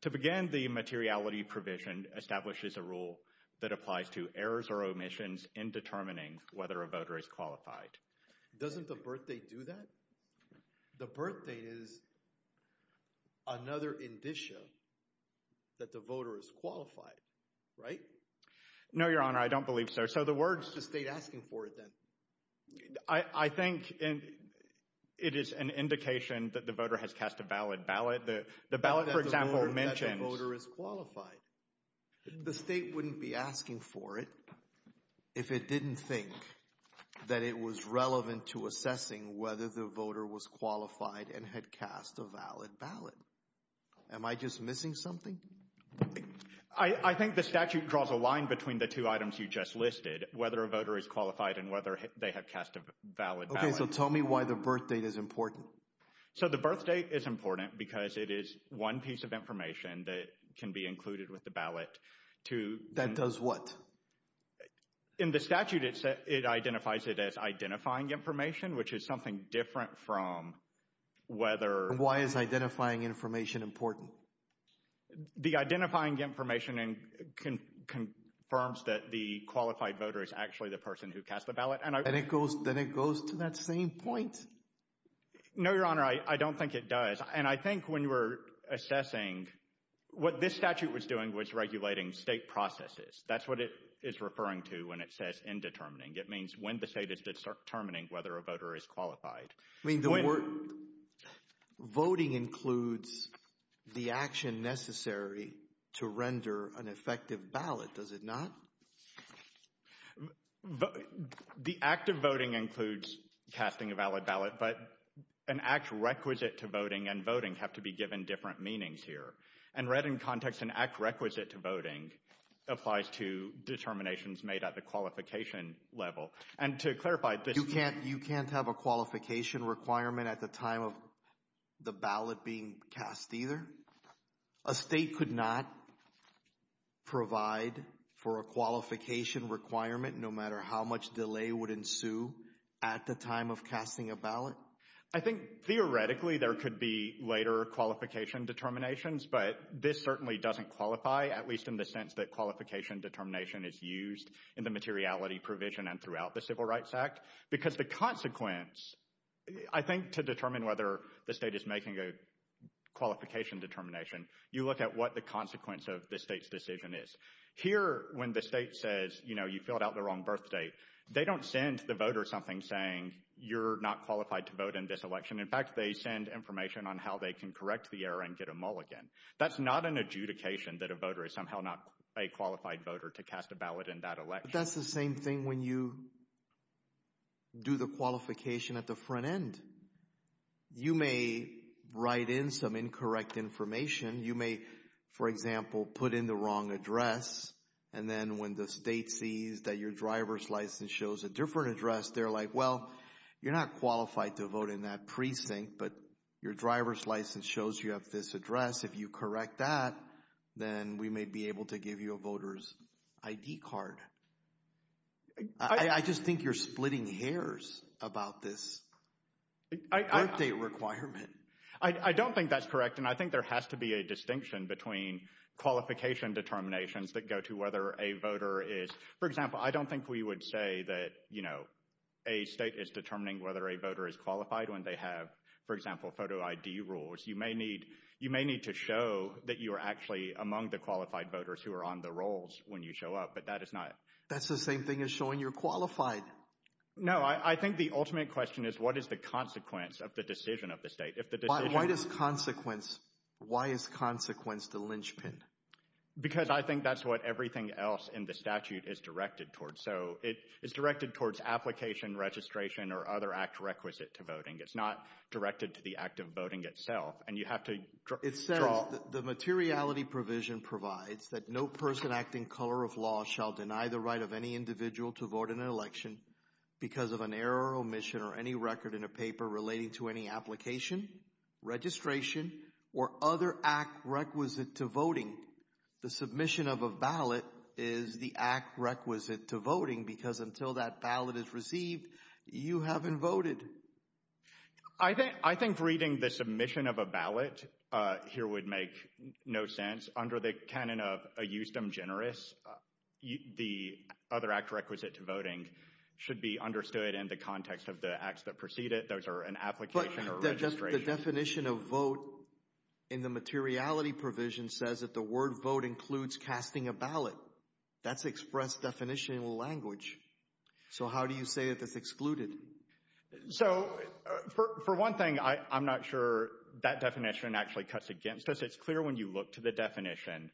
To begin, the materiality provision establishes a rule that applies to errors or omissions in determining whether a voter is qualified. Doesn't the birth date do that? The birth date is another indication that the voter is qualified. Right? No, Your Honor, I don't believe so. So the words to state asking for it then. I think it is an indication that the voter has cast a valid ballot. The ballot, for example, mentioned. The state wouldn't be asking for it if it didn't think that it was relevant to assessing whether the voter was qualified and had cast a valid ballot. Am I just missing something? I think the statute draws a line between the two items you just listed, whether a voter is qualified and whether they have cast a valid ballot. Okay, so tell me why the birth date is important. So the birth date is important because it is one piece of information that can be included with the ballot. That does what? In the statute, it identifies it as identifying information, which is something different from whether. Why is identifying information important? The identifying information confirms that the qualified voter is actually the person who cast the ballot. Then it goes to that same point? No, Your Honor, I don't think it does. And I think when we're assessing, what this statute was doing was regulating state processes. That's what it is referring to when it says indetermining. It means when the state is determining whether a voter is qualified. Voting includes the action necessary to render an effective ballot, does it not? The act of voting includes casting a valid ballot, but an act requisite to voting and voting have to be given different meanings here. And read in context, an act requisite to voting applies to determinations made at the qualification level. And to clarify, you can't have a qualification requirement at the time of the ballot being cast either? A state could not provide for a qualification requirement, no matter how much delay would ensue at the time of casting a ballot. I think theoretically there could be later qualification determinations, but this certainly doesn't qualify, at least in the sense that qualification determination is used in the case of the Civil Rights Act. Because the consequence, I think to determine whether the state is making a qualification determination, you look at what the consequence of the state's decision is. Here, when the state says, you know, you filled out the wrong birth date, they don't send the voter something saying you're not qualified to vote in this election. In fact, they send information on how they can correct the error and get a mulligan. That's not an adjudication that a voter is somehow not a qualified voter to cast a ballot in that election. In fact, that's the same thing when you do the qualification at the front end. You may write in some incorrect information. You may, for example, put in the wrong address. And then when the state sees that your driver's license shows a different address, they're like, well, you're not qualified to vote in that precinct, but your driver's license shows you have this address. If you correct that, then we may be able to give you a voter's ID card. I just think you're splitting hairs about this requirement. I don't think that's correct. And I think there has to be a distinction between qualification determinations that go to whether a voter is, for example, I don't think we would say that, you know, a state is determining whether a voter is qualified when they have, photo ID rules. You may need, you may need to show that you are actually among the qualified voters who are on the rolls when you show up, but that is not, that's the same thing as showing you're qualified. No, I think the ultimate question is what is the consequence of the decision of the state? Why does consequence, why is consequence the linchpin? Because I think that's what everything else in the statute is directed towards. So it is directed towards application registration or other act requisite to voting. It's not directed to the act of voting itself. And you have to draw the materiality provision provides that no person acting color of law shall deny the right of any individual to vote in an election because of an error or omission or any record in a paper relating to any application registration or other act requisite to voting. The submission of a ballot is the act requisite to voting because until that ballot is received, you haven't voted. I think, I think reading the submission of a ballot here would make no sense under the canon of a use them generous. The other act requisite to voting should be understood in the context of the acts that precede it. Those are an application or registration. The definition of vote in the materiality provision says that the word vote includes casting a ballot that's expressed definition language. So how do you say if it's excluded? So for one thing, I'm not sure that definition actually cuts against us. It's clear when you look to the definition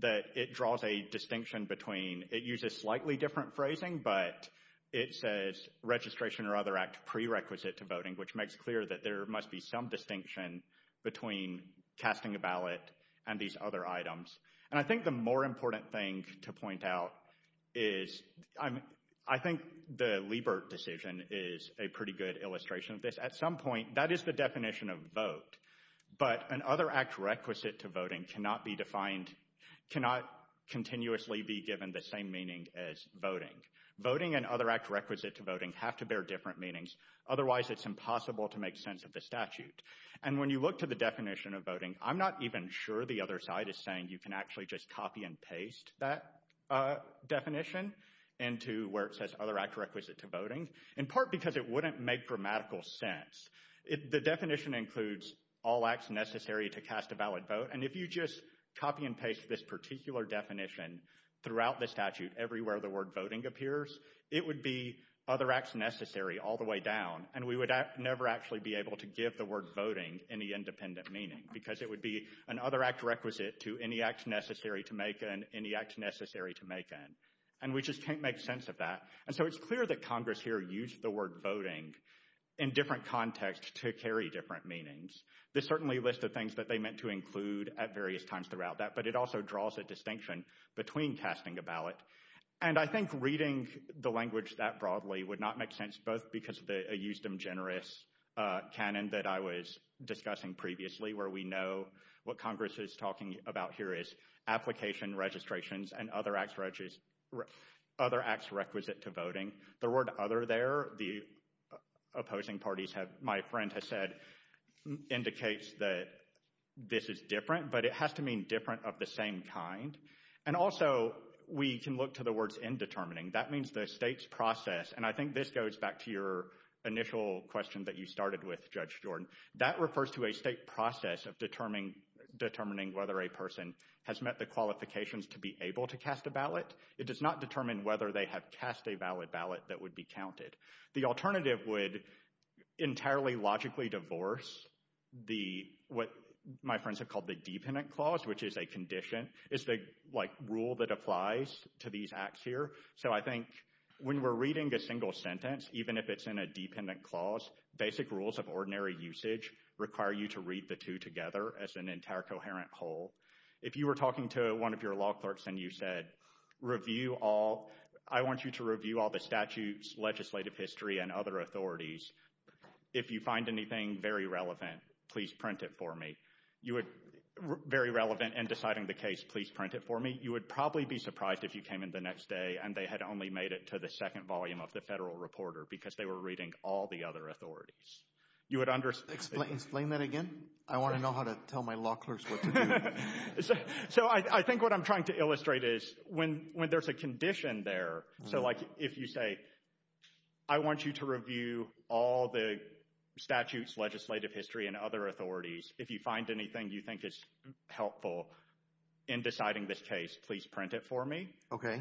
that it draws a distinction between it uses slightly different phrasing, but it says registration or other act prerequisite to voting, which makes it clear that there must be some distinction between casting a ballot and these other items. And I think the more important thing to point out is I'm, I think the Liebert decision is a pretty good illustration of this. At some point, that is the definition of vote, but an other act requisite to voting cannot be defined, cannot continuously be given the same meaning as voting voting and other act requisite to voting have to bear different meanings. Otherwise it's impossible to make sense of the statute. And when you look to the definition of voting, I'm not even sure the other side is saying you can actually just copy and paste that definition into where it says other act requisite to voting in part because it wouldn't make grammatical sense. It, the definition includes all acts necessary to cast a valid vote. And if you just copy and paste this particular definition throughout the statute, everywhere, the word voting appears, it would be other acts necessary all the way down. And we would never actually be able to give the word voting any independent meaning because it would be an other act requisite to any acts necessary to make and any acts necessary to make them. And we just can't make sense of that. And so it's clear that Congress here used the word voting in different context to carry different meanings. This certainly lists the things that they meant to include at various times throughout that, but it also draws a distinction between casting a ballot. And I think reading the language that broadly would not make sense, both because of the used in generous Canon that I was discussing previously, where we know what Congress is talking about here is application and registrations and other acts, other acts requisite to voting. The word other there, the opposing parties have, my friend has said indicates that this is different, but it has to mean different of the same kind. And also we can look to the words in determining that means the state's process. And I think this goes back to your initial question that you started with judge Jordan that refers to a state process of determining, determining whether a person has met the qualifications to be able to cast a It does not determine whether they have cast a valid ballot that would be counted. The alternative would entirely logically divorce the, what my friends have called the dependent clause, which is a condition is the like rule that applies to these acts here. So I think when we're reading a single sentence, even if it's in a dependent clause, basic rules of ordinary usage require you to read the two together as an entire coherent whole. If you were talking to one of your law clerks and you said, review all, I want you to review all the statutes, legislative history, and other authorities. If you find anything very relevant, please print it for me. You would very relevant and deciding the case, please print it for me. You would probably be surprised if you came in the next day and they had only made it to the second volume of the federal reporter because they were reading all the other authorities. You would understand. Explain that again. I want to know how to tell my law clerks. So I think what I'm trying to illustrate is when, when there's a condition there. So like if you say, I want you to review all the statutes, legislative history, and other authorities. If you find anything you think is helpful in deciding this case, please print it for me. Okay.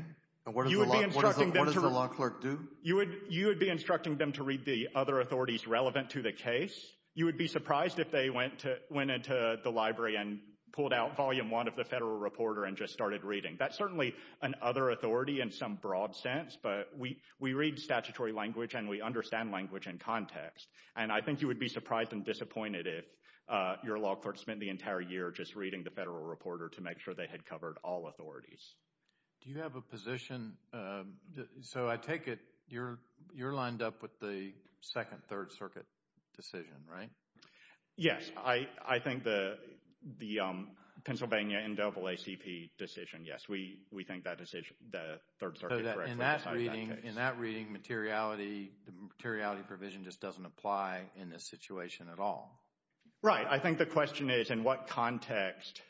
You would be instructing them to do. You would, you would be instructing them to read the other authorities relevant to the case. You would be surprised if they went to, went into the library and pulled out volume one of the federal reporter and just started reading. That's certainly an other authority in some broad sense, but we, we read statutory language and we understand language and context. And I think you would be surprised and disappointed. If your law courts spent the entire year, just reading the federal reporter to make sure they had covered all authorities. Do you have a position? So I take it. You're you're lined up with the second third circuit. Decision, right? Yes. I, I think the, the Pennsylvania and double ACP decision. Yes. We, we think that decision, the third. In that reading materiality, the materiality provision just doesn't apply in this situation at all. Right. I think the question is in what context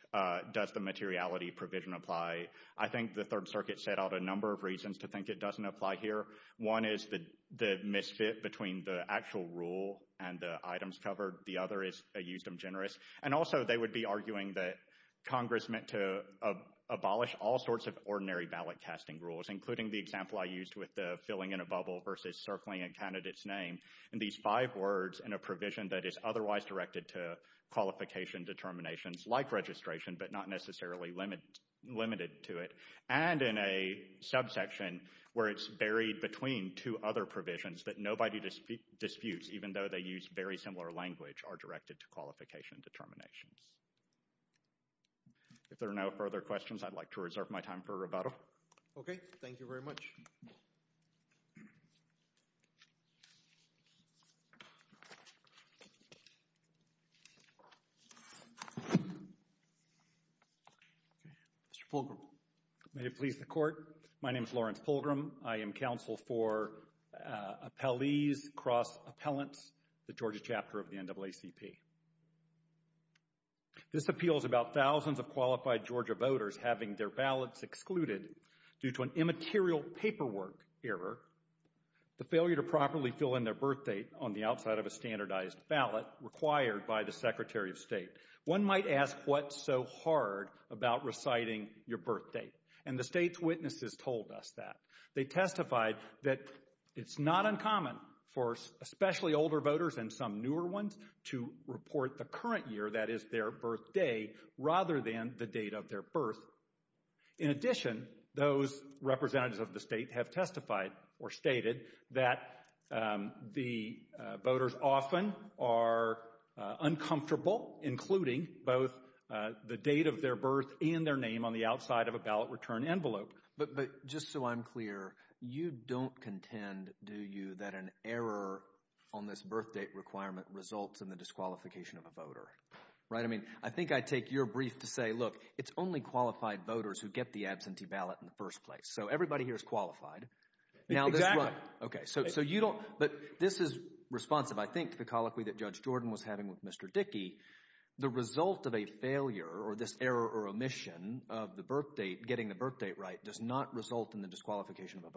does the materiality provision apply? I think the third circuit set out a number of reasons to think it doesn't apply here. One is the, the misfit between the actual rule and the items covered. The other is a use them generous. And also they would be arguing that Congress meant to abolish all sorts of ordinary ballot testing rules, including the example I used with the filling in a bubble versus circling a candidate's name. And these five words in a provision that is otherwise directed to qualification determinations, like registration, but not necessarily limited limited to it. And in a subsection where it's buried between two other provisions that nobody disputes, disputes even though they use very similar language are directed to qualification determinations. If there are no further questions, I'd like to reserve my time for rebuttal. Okay. Thank you very much. Okay. Mr. Fulgham. May it please the court. My name is Lawrence Fulgham. I am counsel for appellees, cross appellants, the Georgia chapter of the NAACP. This appeals about thousands of qualified Georgia voters having their paperwork error, the failure to properly fill in their birth date on the outside of a standardized ballot required by the secretary of state. One might ask what's so hard about reciting your birthday. And the state's witnesses told us that they testified that it's not uncommon for especially older voters and some newer ones to report the current year. That is their birthday rather than the date of their birth. In addition, those representatives of the state have testified or stated that the voters often are uncomfortable, including both the date of their birth and their name on the outside of a ballot return envelope. But just so I'm clear, you don't contend, do you, that an error on this birth date requirement results in the disqualification of a voter, right? I mean, I think I take your brief to say, look, it's only qualified voters who get the absentee ballot in the first place. So everybody here is qualified. Okay. So you don't, but this is responsive. I think the colloquy that Judge Jordan was having with Mr. Dickey, the result of a failure or this error or omission of the birth date, getting the birth date right does not result in the disqualification of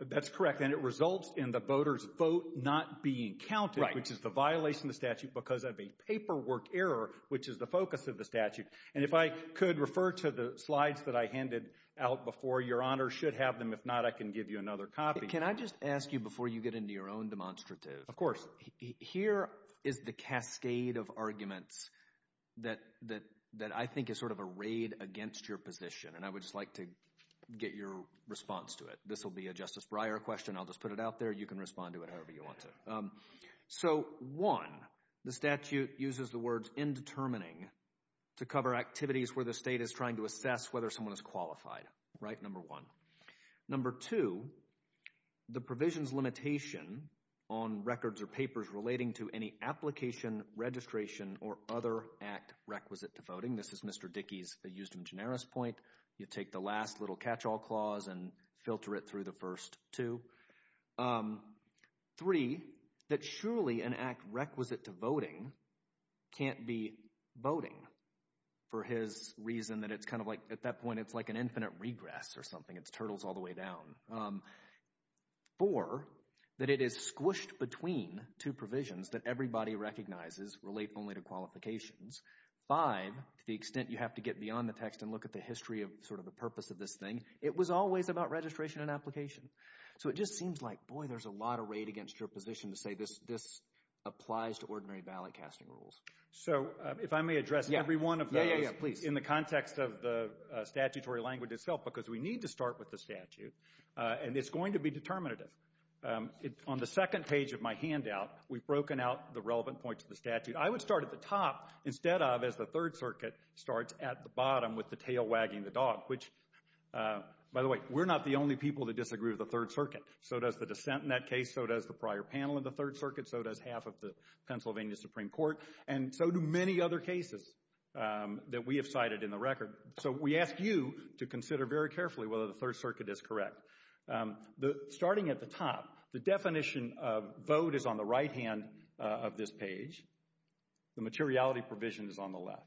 a That's correct. And it results in the voters vote not being counted, which is the violation of the statute because of a paperwork error, which is the focus of the statute. And if I could refer to the slides that I handed out before, your honor should have them. If not, I can give you another copy. Can I just ask you before you get into your own demonstrative, of course, here is the cascade of arguments that, that, that I think is sort of a raid against your position. And I would just like to get your response to it. This will be a Justice Breyer question. I'll just put it out there. You can respond to it however you want to. So one, the statute uses the words in determining to cover activities where the state is trying to assess whether someone is qualified. Right. Number one, number two, the provisions limitation on records or papers relating to any application, registration, or other act requisite to voting. This is Mr. Dickey's used in generis point. You take the last little catch all clause and filter it through the first two three, that surely an act requisite to voting can't be voting for his reason that it's kind of like at that point it's like an infinite regress or something. It's turtles all the way down for that. It is squished between two provisions that everybody recognizes relate only to qualifications by the extent you have to get beyond the text and look at the history of sort of the purpose of this thing. It was always about registration and application. So it just seems like, boy, there's a lot of rate against your position to say this applies to ordinary ballot casting rules. So if I may address everyone in the context of the statutory language itself because we need to start with the statute and it's going to be determinative. It's on the second page of my handout. We've broken out the relevant points of the statute. I would start at the top instead of as the third circuit starts at the bottom with the tail wagging the dog, which by the way, we're not the only people that disagree with the third circuit. So does the dissent in that case. So does the prior panel in the third circuit. So does half of the Pennsylvania Supreme Court. And so do many other cases that we have cited in the record. So we ask you to consider very carefully whether the third circuit is correct. Starting at the top, the definition of vote is on the right hand of this page. The materiality provisions on the left.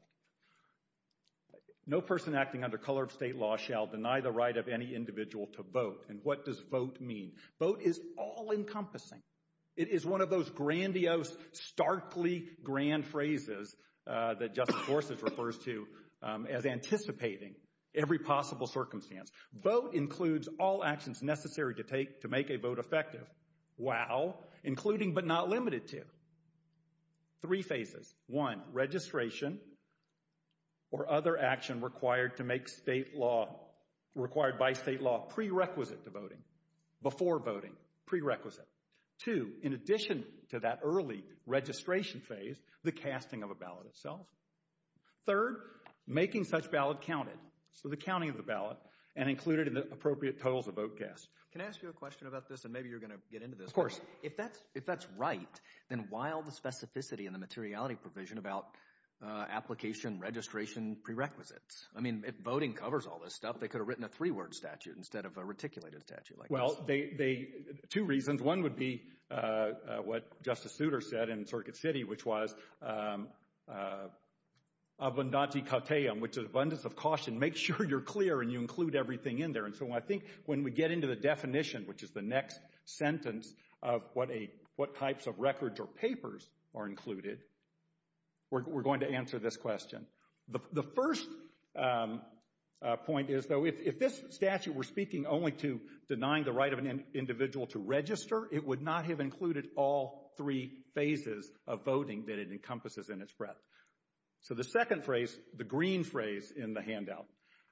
No person acting under color of state law shall deny the right of any individual to vote. And what does vote mean? Vote is all encompassing. It is one of those grandiose, starkly grand phrases that just forces refers to as anticipating every possible circumstance. Vote includes all actions necessary to take to make a vote effective. Wow. Including, but not limited to three phases, one registration or other action required to make state law required by state law prerequisite to voting before voting prerequisite to, in addition to that early registration phase, the casting of a ballot itself. Third, making such ballot counted. So the counting of the ballot and included in the appropriate poll to vote cast. Can I ask you a question about this? And maybe you're going to get into this course. If that's, if that's right, then while the specificity and the materiality provision about application, registration prerequisites, I mean, if voting covers all this stuff, I don't know that they could have written a three word statute instead of a reticulated statute. Well, they, they, two reasons. One would be, uh, uh, what justice Souter said in circuit city, which was, um, uh, which is abundance of caution, make sure you're clear and you include everything in there. And so I think when we get into the definition, which is the next sentence of what a, what types of records or papers are included, we're, we're going to answer this question. The, the first, um, uh, point is though, if, if this statute, we're speaking only to denying the right of an individual to register, it would not have included all three phases of voting that it encompasses in its breadth. So the second phrase, the green phrase in the handout,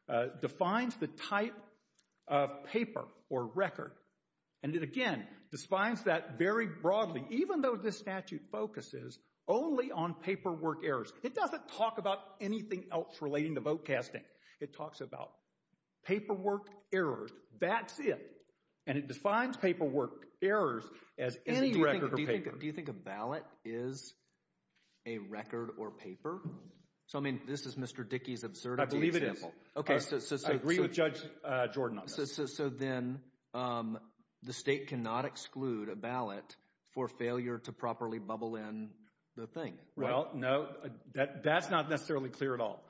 uh, defines the type of paper or record. And it, again, defines that very broadly, even though this statute focuses only on paperwork errors, it doesn't talk about anything else relating to vote casting. It talks about paperwork errors, that's it. And it defines paperwork errors as any record for paper. Do you think a ballot is a record or paper? So, I mean, this is Mr. Dickey's absurdity. I believe it is. Okay. So, so, so. I agree with Judge, uh, Jordan on that. So, so, so then, um, the state cannot exclude a ballot for failure to properly bubble in the thing. Well, no, that, that's not necessarily clear at all.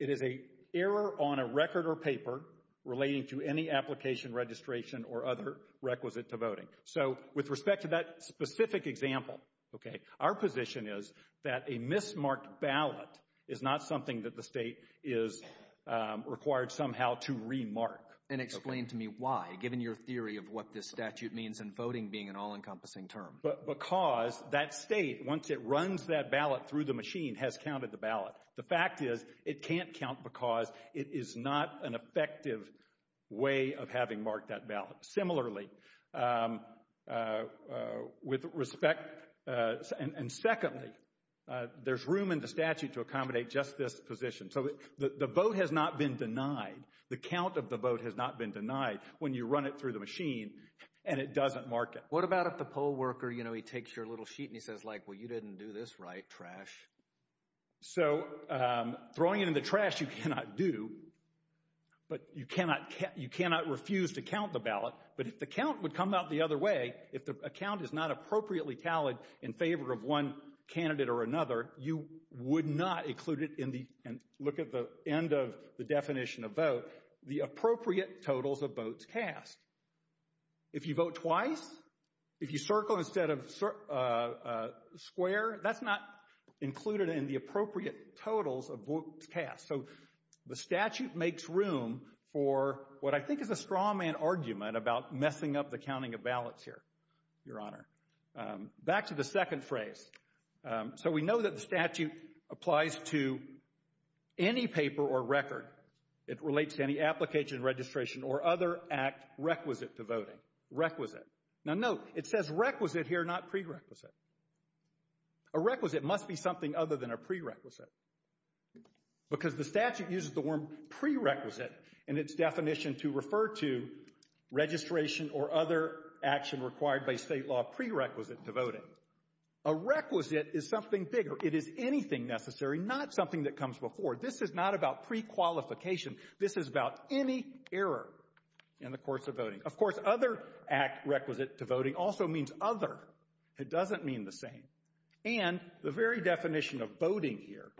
It is a error on a record or paper relating to any application, registration or other requisite to voting. So with respect to that specific example, okay, our position is that a mismarked ballot is not something that the state is, um, required somehow to remark. And explain to me why, given your theory of what this statute means and voting being an all encompassing term. But because that state, once it runs that ballot through the machine has counted the ballot. The fact is it can't count because it is not an effective way of having marked that ballot. Similarly, um, uh, uh, with respect, uh, and secondly, uh, there's room in the statute to accommodate just this position. So the vote has not been denied. The count of the vote has not been denied when you run it through the machine and it doesn't mark it. What about if the poll worker, you know, he takes your little sheet and he says like, well, you didn't do this right trash. So, um, throwing it in the trash, you cannot do, but you cannot, you cannot refuse to count the ballot, but the count would come out the other way if the account is not appropriately tallied in favor of one candidate or another, you would not include it in the, and look at the end of the definition of vote, the appropriate totals of votes passed. If you vote twice, if you circle instead of, uh, uh, square that's not included in the appropriate totals of past. So the statute makes room for what I think is a straw man argument about messing up the counting of ballots here, your honor, um, back to the second phrase. Um, so we know that the statute applies to any paper or record. It relates to any application registration or other act requisite to vote requisite. Now note, it says requisite here, not prerequisite. A requisite must be something other than a prerequisite because the statute uses the word prerequisite and its definition to refer to registration or other action required by state law prerequisite to vote in a requisite is something bigger. It is anything necessary, not something that comes before. This is not about prequalification. This is about any error in the course of voting. Of course, other act requisite to voting also means other, it doesn't mean the same. And the very definition of voting here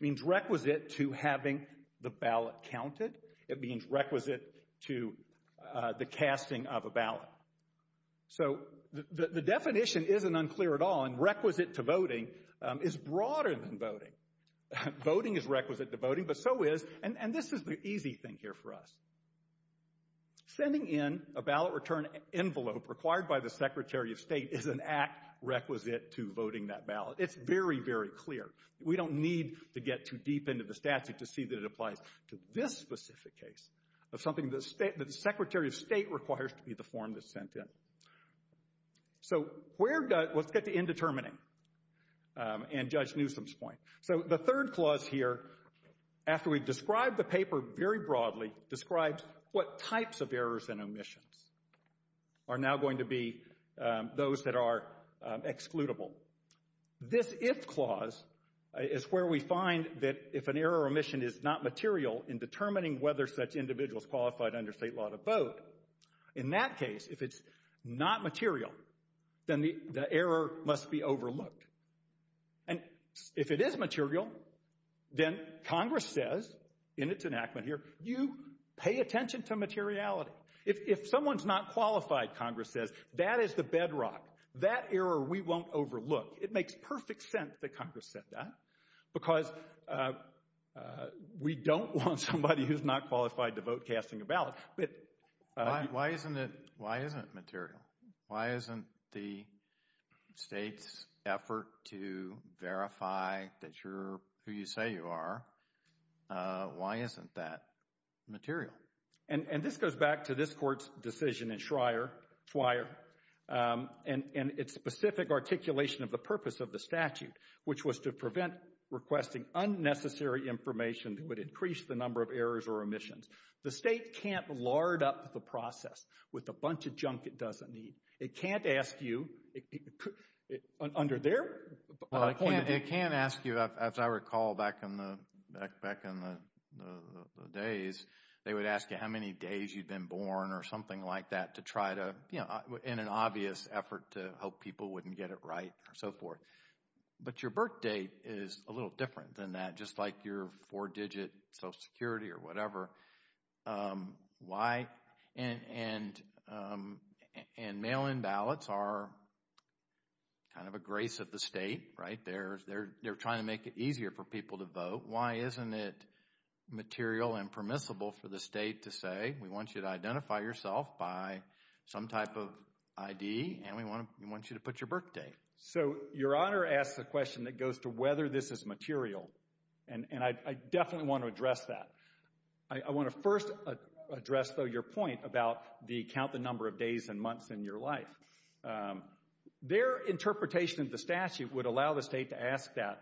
means requisite to having the ballot counted. It means requisite to, uh, the casting of a ballot. So the definition isn't unclear at all and requisite to voting, um, is broader than voting. Voting is requisite to voting, but so is, and this is the easy thing here for us. Sending in a ballot return envelope required by the secretary of state is an act requisite to voting that ballot. It's very, very clear. We don't need to get too deep into the statute to see that it applies to this specific case of something that the secretary of state requires to be the form that's sent in. So where does, let's get the indeterminate, um, and Judge Newsom's point. So the third clause here, after we've described the paper very broadly, describes what types of errors and omissions are now going to be, um, those that are, um, excludable. This if clause is where we find that if an error or omission is not material in determining whether such individuals qualified under state law to vote. In that case, if it's not material, then the error must be overlooked. And if it is material, then Congress says in its enactment here, you pay attention to materiality. If someone's not qualified, Congress says that is the bedrock, that error we won't overlook. It makes perfect sense that Congress said that because, uh, uh, we don't want somebody who's not qualified to vote casting a ballot. Why isn't it, why isn't material? Why isn't the state's effort to verify that you're who you say you are? Uh, why isn't that material? And this goes back to this court's decision in Schreier, um, and its specific articulation of the purpose of the statute, which was to prevent requesting unnecessary information that would increase the number of errors or omissions. The state can't lard up the process with a bunch of junk it doesn't need. It can't ask you under their point. It can't ask you, as I recall, back in the, back, back in the days, they would ask you how many days you'd been born or something like that to try to, you know, in an obvious effort to help people wouldn't get it right or so forth. But your birth date is a little different than that. Just like your four digit social security or whatever. Um, why? And, and, um, and mail-in ballots are kind of a grace of the state, right? They're, they're, they're trying to make it easier for people to vote. Why isn't it material and permissible for the state to say, we want you to identify yourself by some type of ID and we want, we want you to put your birthday. So your honor asked the question that goes to whether this is material. And I definitely want to address that. I want to first address though your point about the count, the number of days and months in your life, um, their interpretation of the statute would allow the state to ask that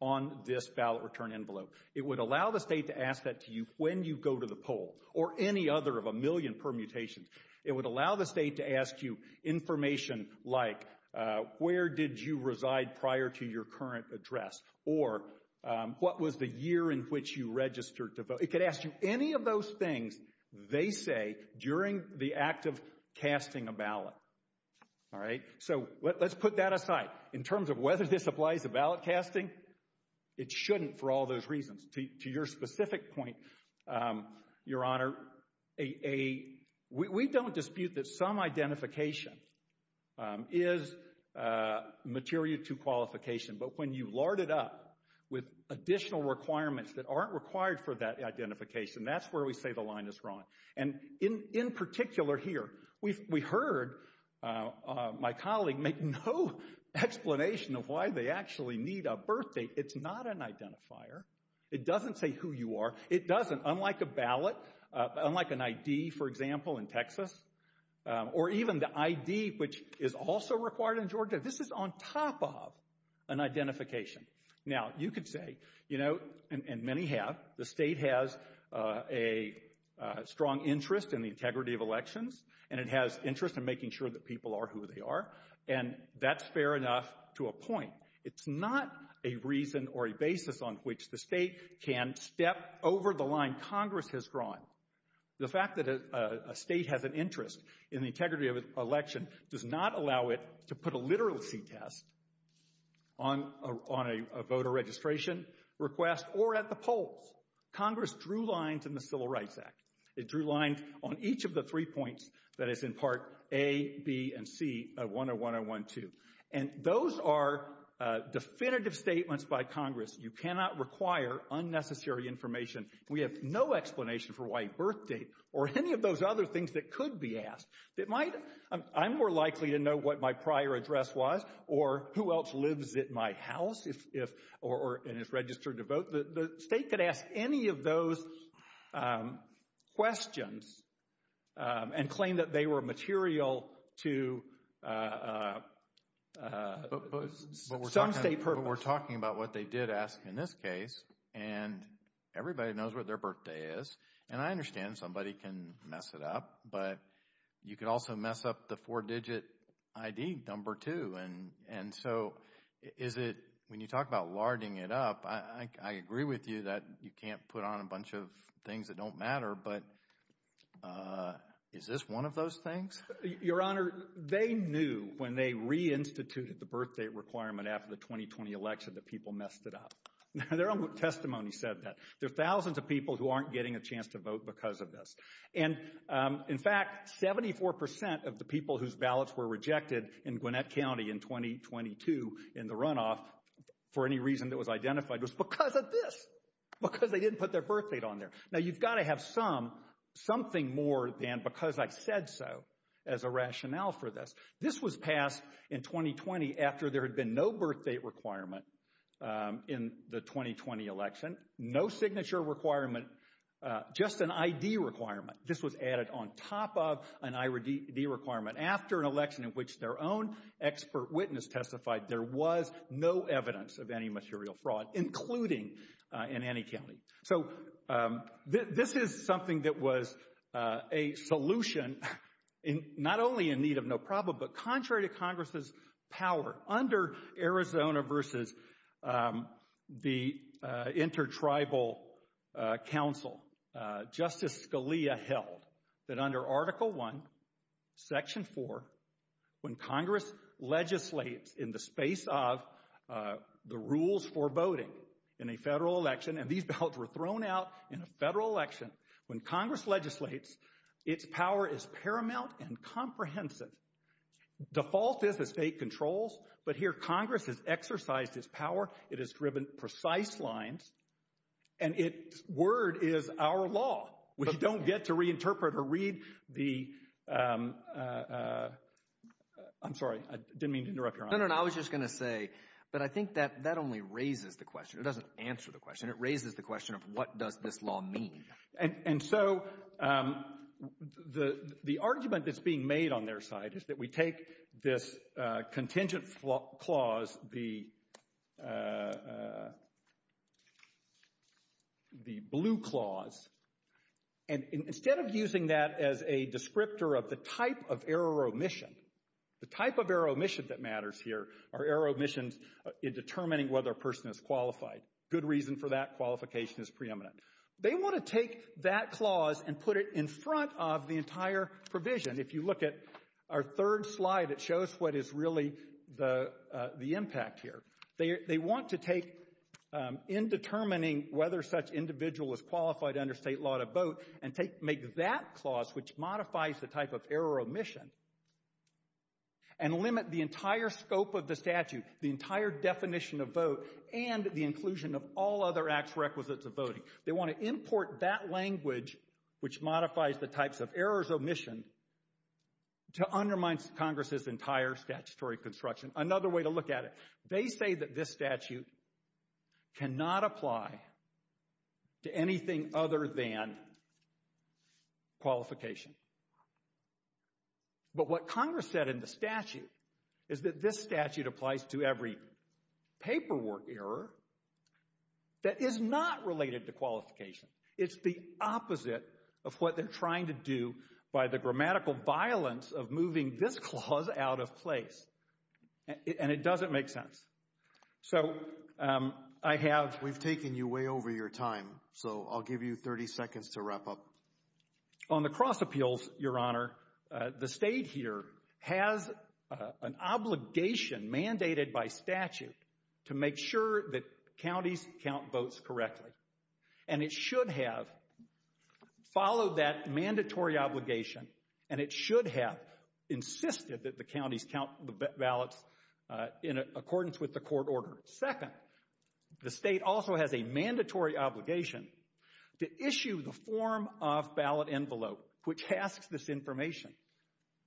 on this ballot return envelope. It would allow the state to ask that to you when you go to the poll or any other of a million permutations, it would allow the state to ask you information like, uh, where did you reside prior to your current address? Or, um, what was the year in which you registered to vote? It could ask you any of those things they say during the act of casting a All right. So let's put that aside in terms of whether this applies to ballot casting. It shouldn't for all those reasons to your specific point. Um, your honor, a, a, we don't dispute that some identification, um, is, uh, material to qualification, but when you've loaded up with additional requirements that aren't required for that identification, that's where we say the line is wrong. And in, in particular here, we, we heard, uh, uh, my colleague make no explanation of why they actually need a birthday. It's not an identifier. It doesn't say who you are. It doesn't unlike a ballot, unlike an ID, for example, in Texas, um, or even the ID, which is also required in Georgia. This is on top of an identification. Now you could say, you know, and many have, the state has, uh, a, uh, strong interest in the integrity of elections and it has interest in making sure that people are who they are. And that's fair enough to a point. It's not a reason or a basis on which the state can step over the line Congress has drawn. The fact that a state has an interest in the integrity of an election does not allow it to put a literacy test on a, on a voter registration request or at the polls. Congress drew lines in the civil rights act. It drew lines on each of the three points that it's in part a, B and C of one or one on one, two. And those are, uh, definitive statements by Congress. You cannot require unnecessary information. We have no explanation for white birthday or any of those other things that could be asked. It might, I'm more likely to know what my prior address was or who else lives at my house. If, if, or, or, and it's registered to vote. The state could ask any of those, um, questions, um, and claim that they were material to, uh, uh, uh, but we're talking about what they did ask in this case. And everybody knows what their birthday is. And I understand somebody can mess it up, but you can also mess up the four digit ID number two. And, and so is it, when you talk about larding it up, I, I agree with you that you can't put on a bunch of things that don't matter, but, uh, is this one of those things? Your honor, they knew when they reinstituted the birthday requirement after the 2020 election, the people messed it up. Their own testimony said that there are thousands of people who aren't getting a chance to vote because of this. And, um, in fact, 74% of the people whose ballots were rejected in Gwinnett County in 2022, in the runoff, for any reason that was identified was because of this, because they didn't put their birthday on there. Now you've got to have some, something more than because I've said so as a rationale for this, this was passed in 2020 after there had been no birthday requirement, um, in the 2020 election, no signature requirement, uh, just an ID requirement. This was added on top of an ID requirement after an election in which their own expert witness testified, there was no evidence of any material fraud, including, uh, in any county. So, um, this is something that was, uh, a solution. And not only in need of no problem, but contrary to Congress's power under Arizona versus, um, the, uh, inter-tribal, uh, council, uh, Justice Scalia held that under article one, section four, when Congress legislates in the space of, uh, the rules for voting in a federal election, and these ballots were thrown out in a federal election. When Congress legislates, its power is paramount and comprehensive. Default is a state controls, but here Congress has exercised his power. It has driven precise lines and it word is our law. We don't get to reinterpret or read the, um, uh, uh, uh, I'm sorry. I didn't mean to interrupt you. No, no, no. I was just going to say, but I think that, that only raises the question. It doesn't answer the question. It raises the question of what does this law mean? And, and so, um, the, the argument that's being made on their side is that we take this, uh, contingent flaw clause, the, uh, uh, the blue clause. And instead of using that as a descriptor of the type of error or omission here, our error omission is determining whether a person is qualified. Good reason for that qualification is preeminent. They want to take that clause and put it in front of the entire provision. If you look at our third slide, it shows what is really the, uh, the impact here. They, they want to take, um, in determining whether such individual is qualified under state law to vote and take, make that clause, which modifies the type of error omission and limit the entire scope of the statute, the entire definition of vote and the inclusion of all other acts requisites of voting. They want to import that language, which modifies the types of errors omission to undermine Congress's entire statutory construction. Another way to look at it. They say that this statute cannot apply to anything other than qualification. But what Congress said in the statute is that this statute applies to every paperwork error that is not related to qualification. It's the opposite of what they're trying to do by the grammatical violence of moving this clause out of place. And it doesn't make sense. So, um, I have, we've taken you way over your time, so I'll give you 30 seconds to wrap up. On the cross appeals, your honor, uh, the state here has an obligation mandated by statute to make sure that counties count votes correctly. And it should have followed that mandatory obligation. And it should have insisted that the counties count the ballots, uh, in accordance with the court order. Second, the state also has a mandatory obligation to issue the form of a ballot envelope, which has this information.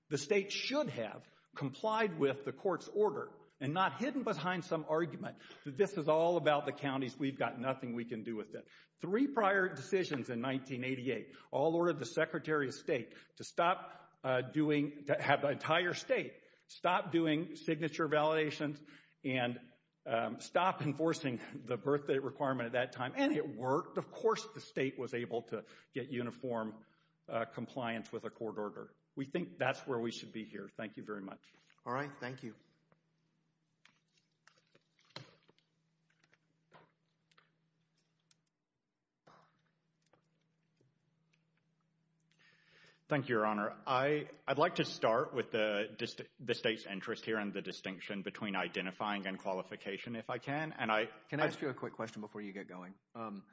The state should have complied with the court's order and not hidden behind some argument. This is all about the counties. We've got nothing. We can do with it. Three prior decisions in 1988, all ordered the secretary of state to stop, uh, doing that, have an entire state stop doing signature validations and, um, stop enforcing the birthday requirement at that time. And it worked. Of course the state was able to get uniform compliance with a court order. We think that's where we should be here. Thank you very much. All right. Thank you. Thank you, your honor. I, I'd like to start with the district the state's interest here and the distinction between identifying and qualification, if I can. And I, can I ask you a quick question before you get going? Um,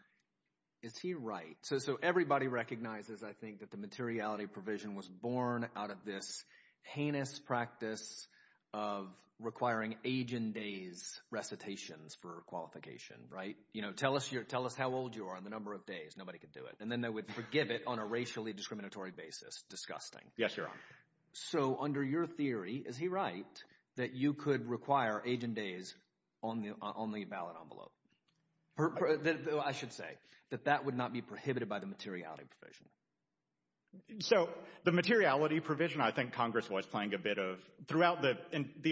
is he right? So, so everybody recognizes, I think that the materiality provision was born out of this heinous practice of requiring agent days recitations for qualification, right? You know, tell us your, tell us how old you are on the number of days. Nobody could do it. And then that would forgive it on a racially discriminatory basis. Disgusting. Yes, your honor. So under your theory, is he right? That you could require agent days on the, on the ballot envelope. I should say that that would not be prohibited by the materiality provision. So the materiality provision, I think Congress was playing a bit of throughout the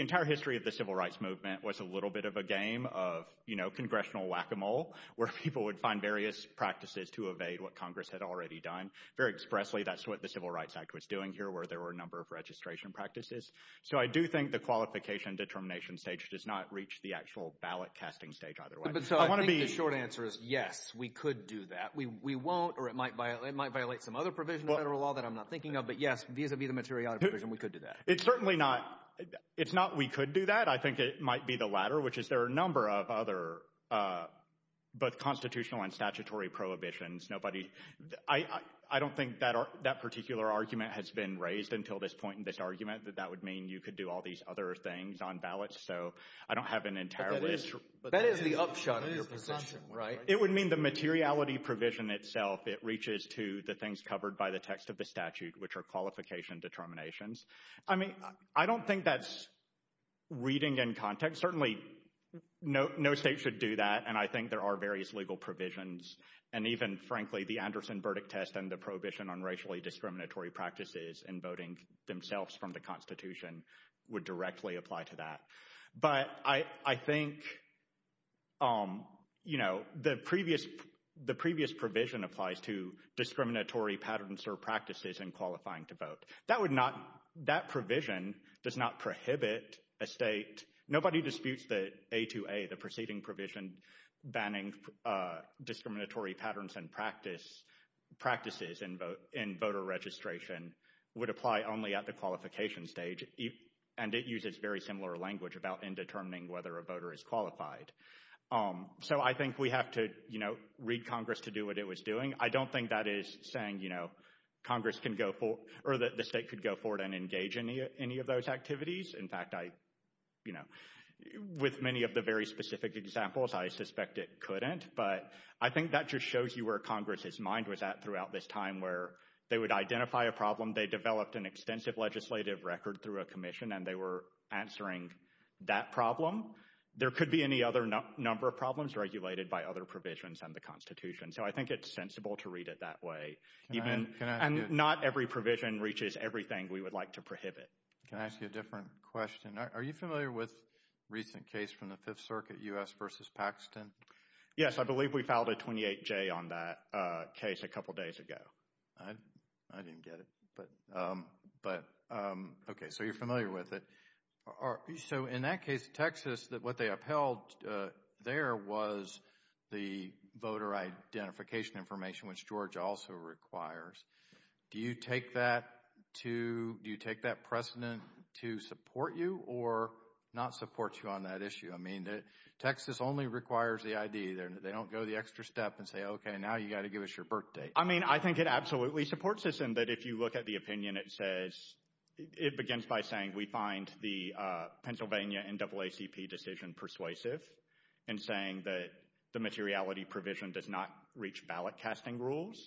entire history of the civil rights movement was a little bit of a game of, you know, congressional whack-a-mole where people would find various practices to evade what Congress had already done very expressly. That's what the civil rights act was doing here where there were a number of ways to evade the materiality provision. So I don't think that the qualification determination stage does not reach the actual ballot testing stage either way. I want to be short answer is yes, we could do that. We, we won't, or it might violate, it might violate some other provision of federal law that I'm not thinking of, but yes, these would be the materiality provision. We could do that. It's certainly not. It's not, we could do that. I think that it might be the latter, which is there are a number of other, but constitutional and statutory prohibitions. Nobody, I, I don't think that that particular argument has been raised until this point in this argument, that that would mean you could do all these other things on ballots. So I don't have an entire list, but that is the upshot. Right. It would mean the materiality provision itself. It reaches to the things covered by the text of the statute, which are qualification determinations. I mean, I don't think that's reading in context. Certainly no, no state should do that. And I think there are various legal provisions. And even frankly, the Anderson verdict test and the prohibition on racially discriminatory practices and voting themselves from the constitution would directly apply to that. But I, I think, you know, the previous, the previous provision applies to discriminatory patterns or practices in qualifying to vote. That would not, that provision does not prohibit a state nobody disputes that a, to a, the proceeding provision banning discriminatory patterns and practice practices and vote in voter registration would apply only at the qualification stage. And it uses very similar language about in determining whether a voter is qualified. So I think we have to, you know, read Congress to do what it was doing. I don't think that is saying, you know, Congress can go for or that the state could go forward and engage in any of those activities. In fact, I, you know, with many of the very specific examples, I suspect it couldn't, but I think that just shows you where Congress's mind was at throughout this time, where they would identify a problem. They developed an extensive legislative record through a commission and they were answering that problem. There could be any other number of problems regulated by other provisions and the constitution. So I think it's sensible to read it that way. And not every provision reaches everything we would like to prohibit. Can I ask you a different question? Are you familiar with recent case from the fifth circuit U.S. versus Paxton? Yes. I believe we filed a 28 J on that case a couple of days ago. I didn't get it, but, but okay. So you're familiar with it. So in that case, Texas, that what they upheld, there was the voter identification information, which George also requires. Do you take that to, do you take that precedent to support you or not support you on that issue? I mean, Texas only requires the ID there. They don't go the extra step and say, okay, now you got to give us your birth date. I mean, I think it absolutely supports this. And that if you look at the opinion, it says, it begins by saying, we find the Pennsylvania NAACP decision persuasive and saying that the materiality provision does not reach ballot casting rules.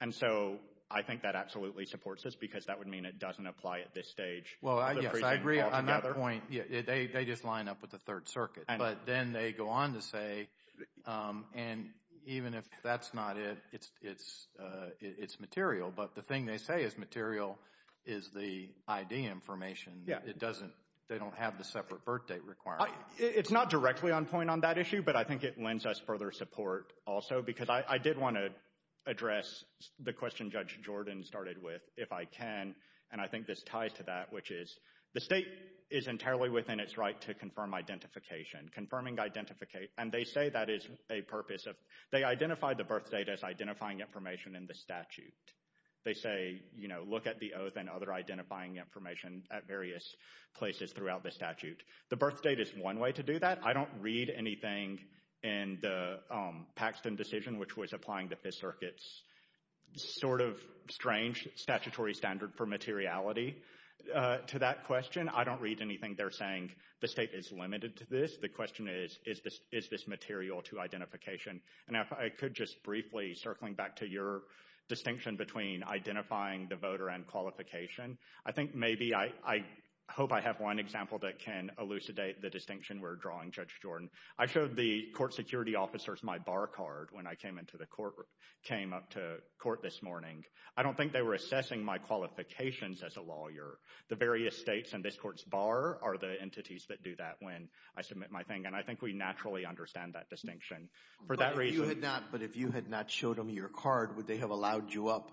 And so I think that absolutely supports this because that would mean it doesn't apply at this stage. Well, I agree on that point. They just line up with the third circuit, but then they go on to say, and even if that's not it, it's, it's it's material. But the thing they say is material is the ID information. It doesn't, they don't have the separate birth date required. It's not directly on point on that issue, but I think it lends us further support also, because I did want to address the question judge Jordan started with if I can. And I think this ties to that, which is the state is entirely within its right to confirm identification, confirming, identify, and they say that is a purpose of, they identify the birth date as identifying information in the statute. They say, you know, look at the oath and other identifying information at various places throughout the statute. The birth date is one way to do that. I don't read anything in the Paxton decision, which was applying the circuits sort of strange statutory standard for materiality to that question. I don't read anything. They're saying the state is limited to this. The question is, is this, is this material to identification? And if I could just briefly circling back to your distinction between identifying the voter and qualification, I think maybe I, I hope I have one example that can elucidate the distinction we're drawing judge Jordan. I showed the court security officers my bar card when I came into the court, came up to court this morning. I don't think they were assessing my qualifications as a lawyer, the various States and this court's bar are the entities that do that. When I submit my thing. And I think we naturally understand that distinction for that reason. But if you had not showed them your card, would they have allowed you up?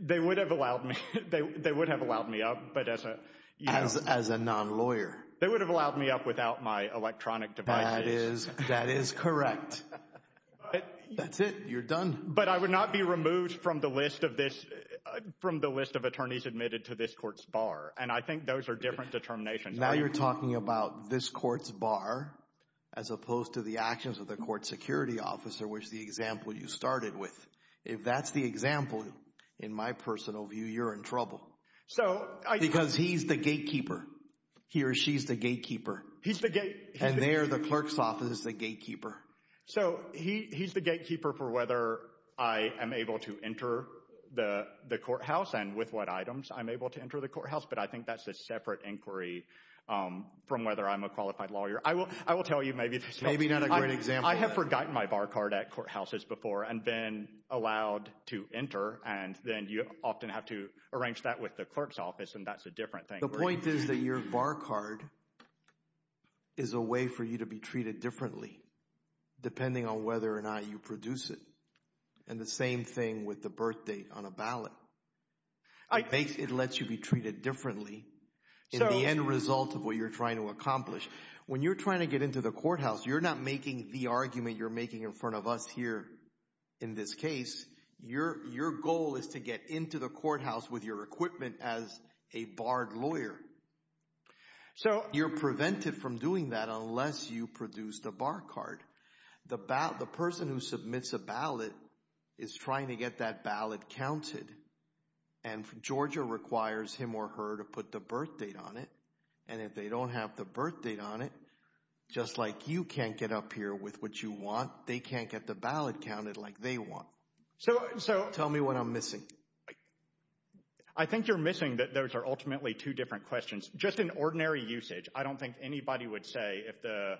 They would have allowed me, they would have allowed me up, but as a, as a non-lawyer, they would have allowed me up without my electronic device. That is correct. That's it. You're done. But I would not be removed from the list of this, from the list of attorneys admitted to this court's bar. And I think those are different determinations. Now you're talking about this court's bar, as opposed to the actions of the court security officer, which the example you started with. If that's the example, in my personal view, you're in trouble. So. Because he's the gatekeeper, he or she's the gatekeeper. He's the gatekeeper. And they're the clerk's office, the gatekeeper. So he's the gatekeeper for whether I am able to enter the courthouse and with what items I'm able to enter the courthouse. But I think that's a separate inquiry from whether I'm a qualified lawyer. I will tell you maybe. Maybe not a great example. I have forgotten my bar card at courthouses before and been allowed to enter. And then you often have to arrange that with the clerk's office, and that's a different thing. The point is that your bar card is a way for you to be treated differently, depending on whether or not you produce it. And the same thing with the birth date on a ballot. It lets you be treated differently in the end result of what you're trying to accomplish. When you're trying to get into the courthouse, you're not making the argument you're making in front of us here in this case. Your goal is to get into the courthouse with your equipment as a barred lawyer. So you're prevented from doing that unless you produce the bar card. The person who submits a ballot is trying to get that ballot counted, and Georgia requires him or her to put the birth date on it. And if they don't have the birth date on it, just like you can't get up here with what you want, they can't get the ballot counted like they want. So tell me what I'm missing. I think you're missing that those are ultimately two different questions. Just in ordinary usage, I don't think anybody would say if the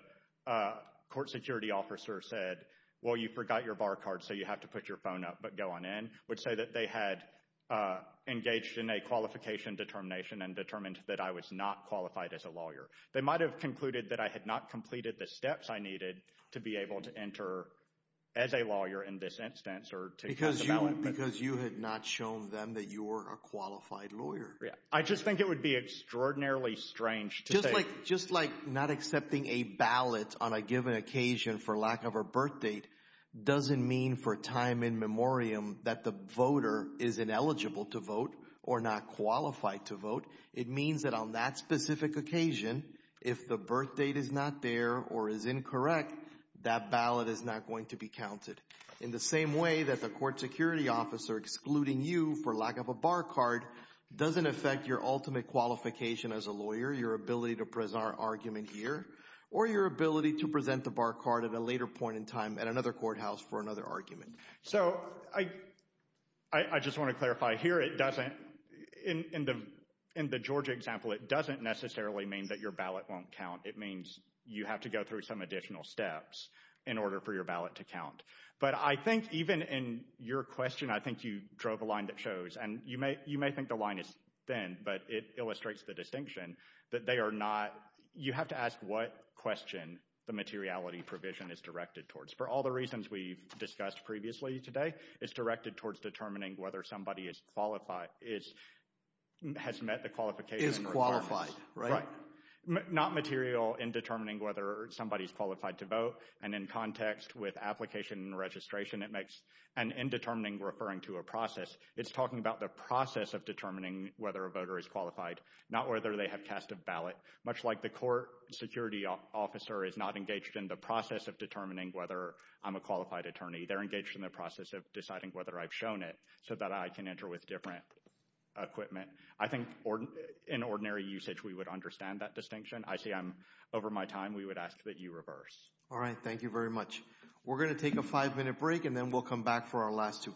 court security officer said, well, you forgot your bar card so you have to put your phone up but go on in, would say that they had engaged in a qualification determination and determined that I was not qualified as a lawyer. They might have concluded that I had not completed the steps I needed to be able to enter as a lawyer in this instance. Because you had not shown them that you were a qualified lawyer. I just think it would be extraordinarily strange to say. Just like not accepting a ballot on a given occasion for lack of a birth date doesn't mean for time in memoriam that the voter is ineligible to vote or not qualified to vote. It means that on that specific occasion, if the birth date is not there or is incorrect, that ballot is not going to be counted. In the same way that the court security officer excluding you for lack of a bar card doesn't affect your ultimate qualification as a lawyer, your ability to present an argument here, or your ability to present the bar card at a later point in time at another courthouse for another argument. So I just want to clarify here. It doesn't – in the Georgia example, it doesn't necessarily mean that your ballot won't count. It means you have to go through some additional steps in order for your ballot to count. But I think even in your question, I think you drove a line that shows – and you may think the line is thin, but it illustrates the distinction that they are not – you have to ask what question the materiality provision is directed towards. For all the reasons we've discussed previously today, it's directed towards determining whether somebody is qualified, has met the qualification requirement. Is qualified, right? Not material in determining whether somebody is qualified to vote. And in context with application and registration, it makes an indeterminate referring to a process. It's talking about the process of determining whether a voter is qualified, not whether they have cast a ballot. Much like the court security officer is not engaged in the process of determining whether I'm a qualified attorney, they're engaged in the process of deciding whether I've shown it so that I can enter with different equipment. I think in ordinary usage, we would understand that distinction. I see I'm over my time. We would ask that you reverse. All right. Thank you very much. We're going to take a five-minute break, and then we'll come back for our last two cases. All right.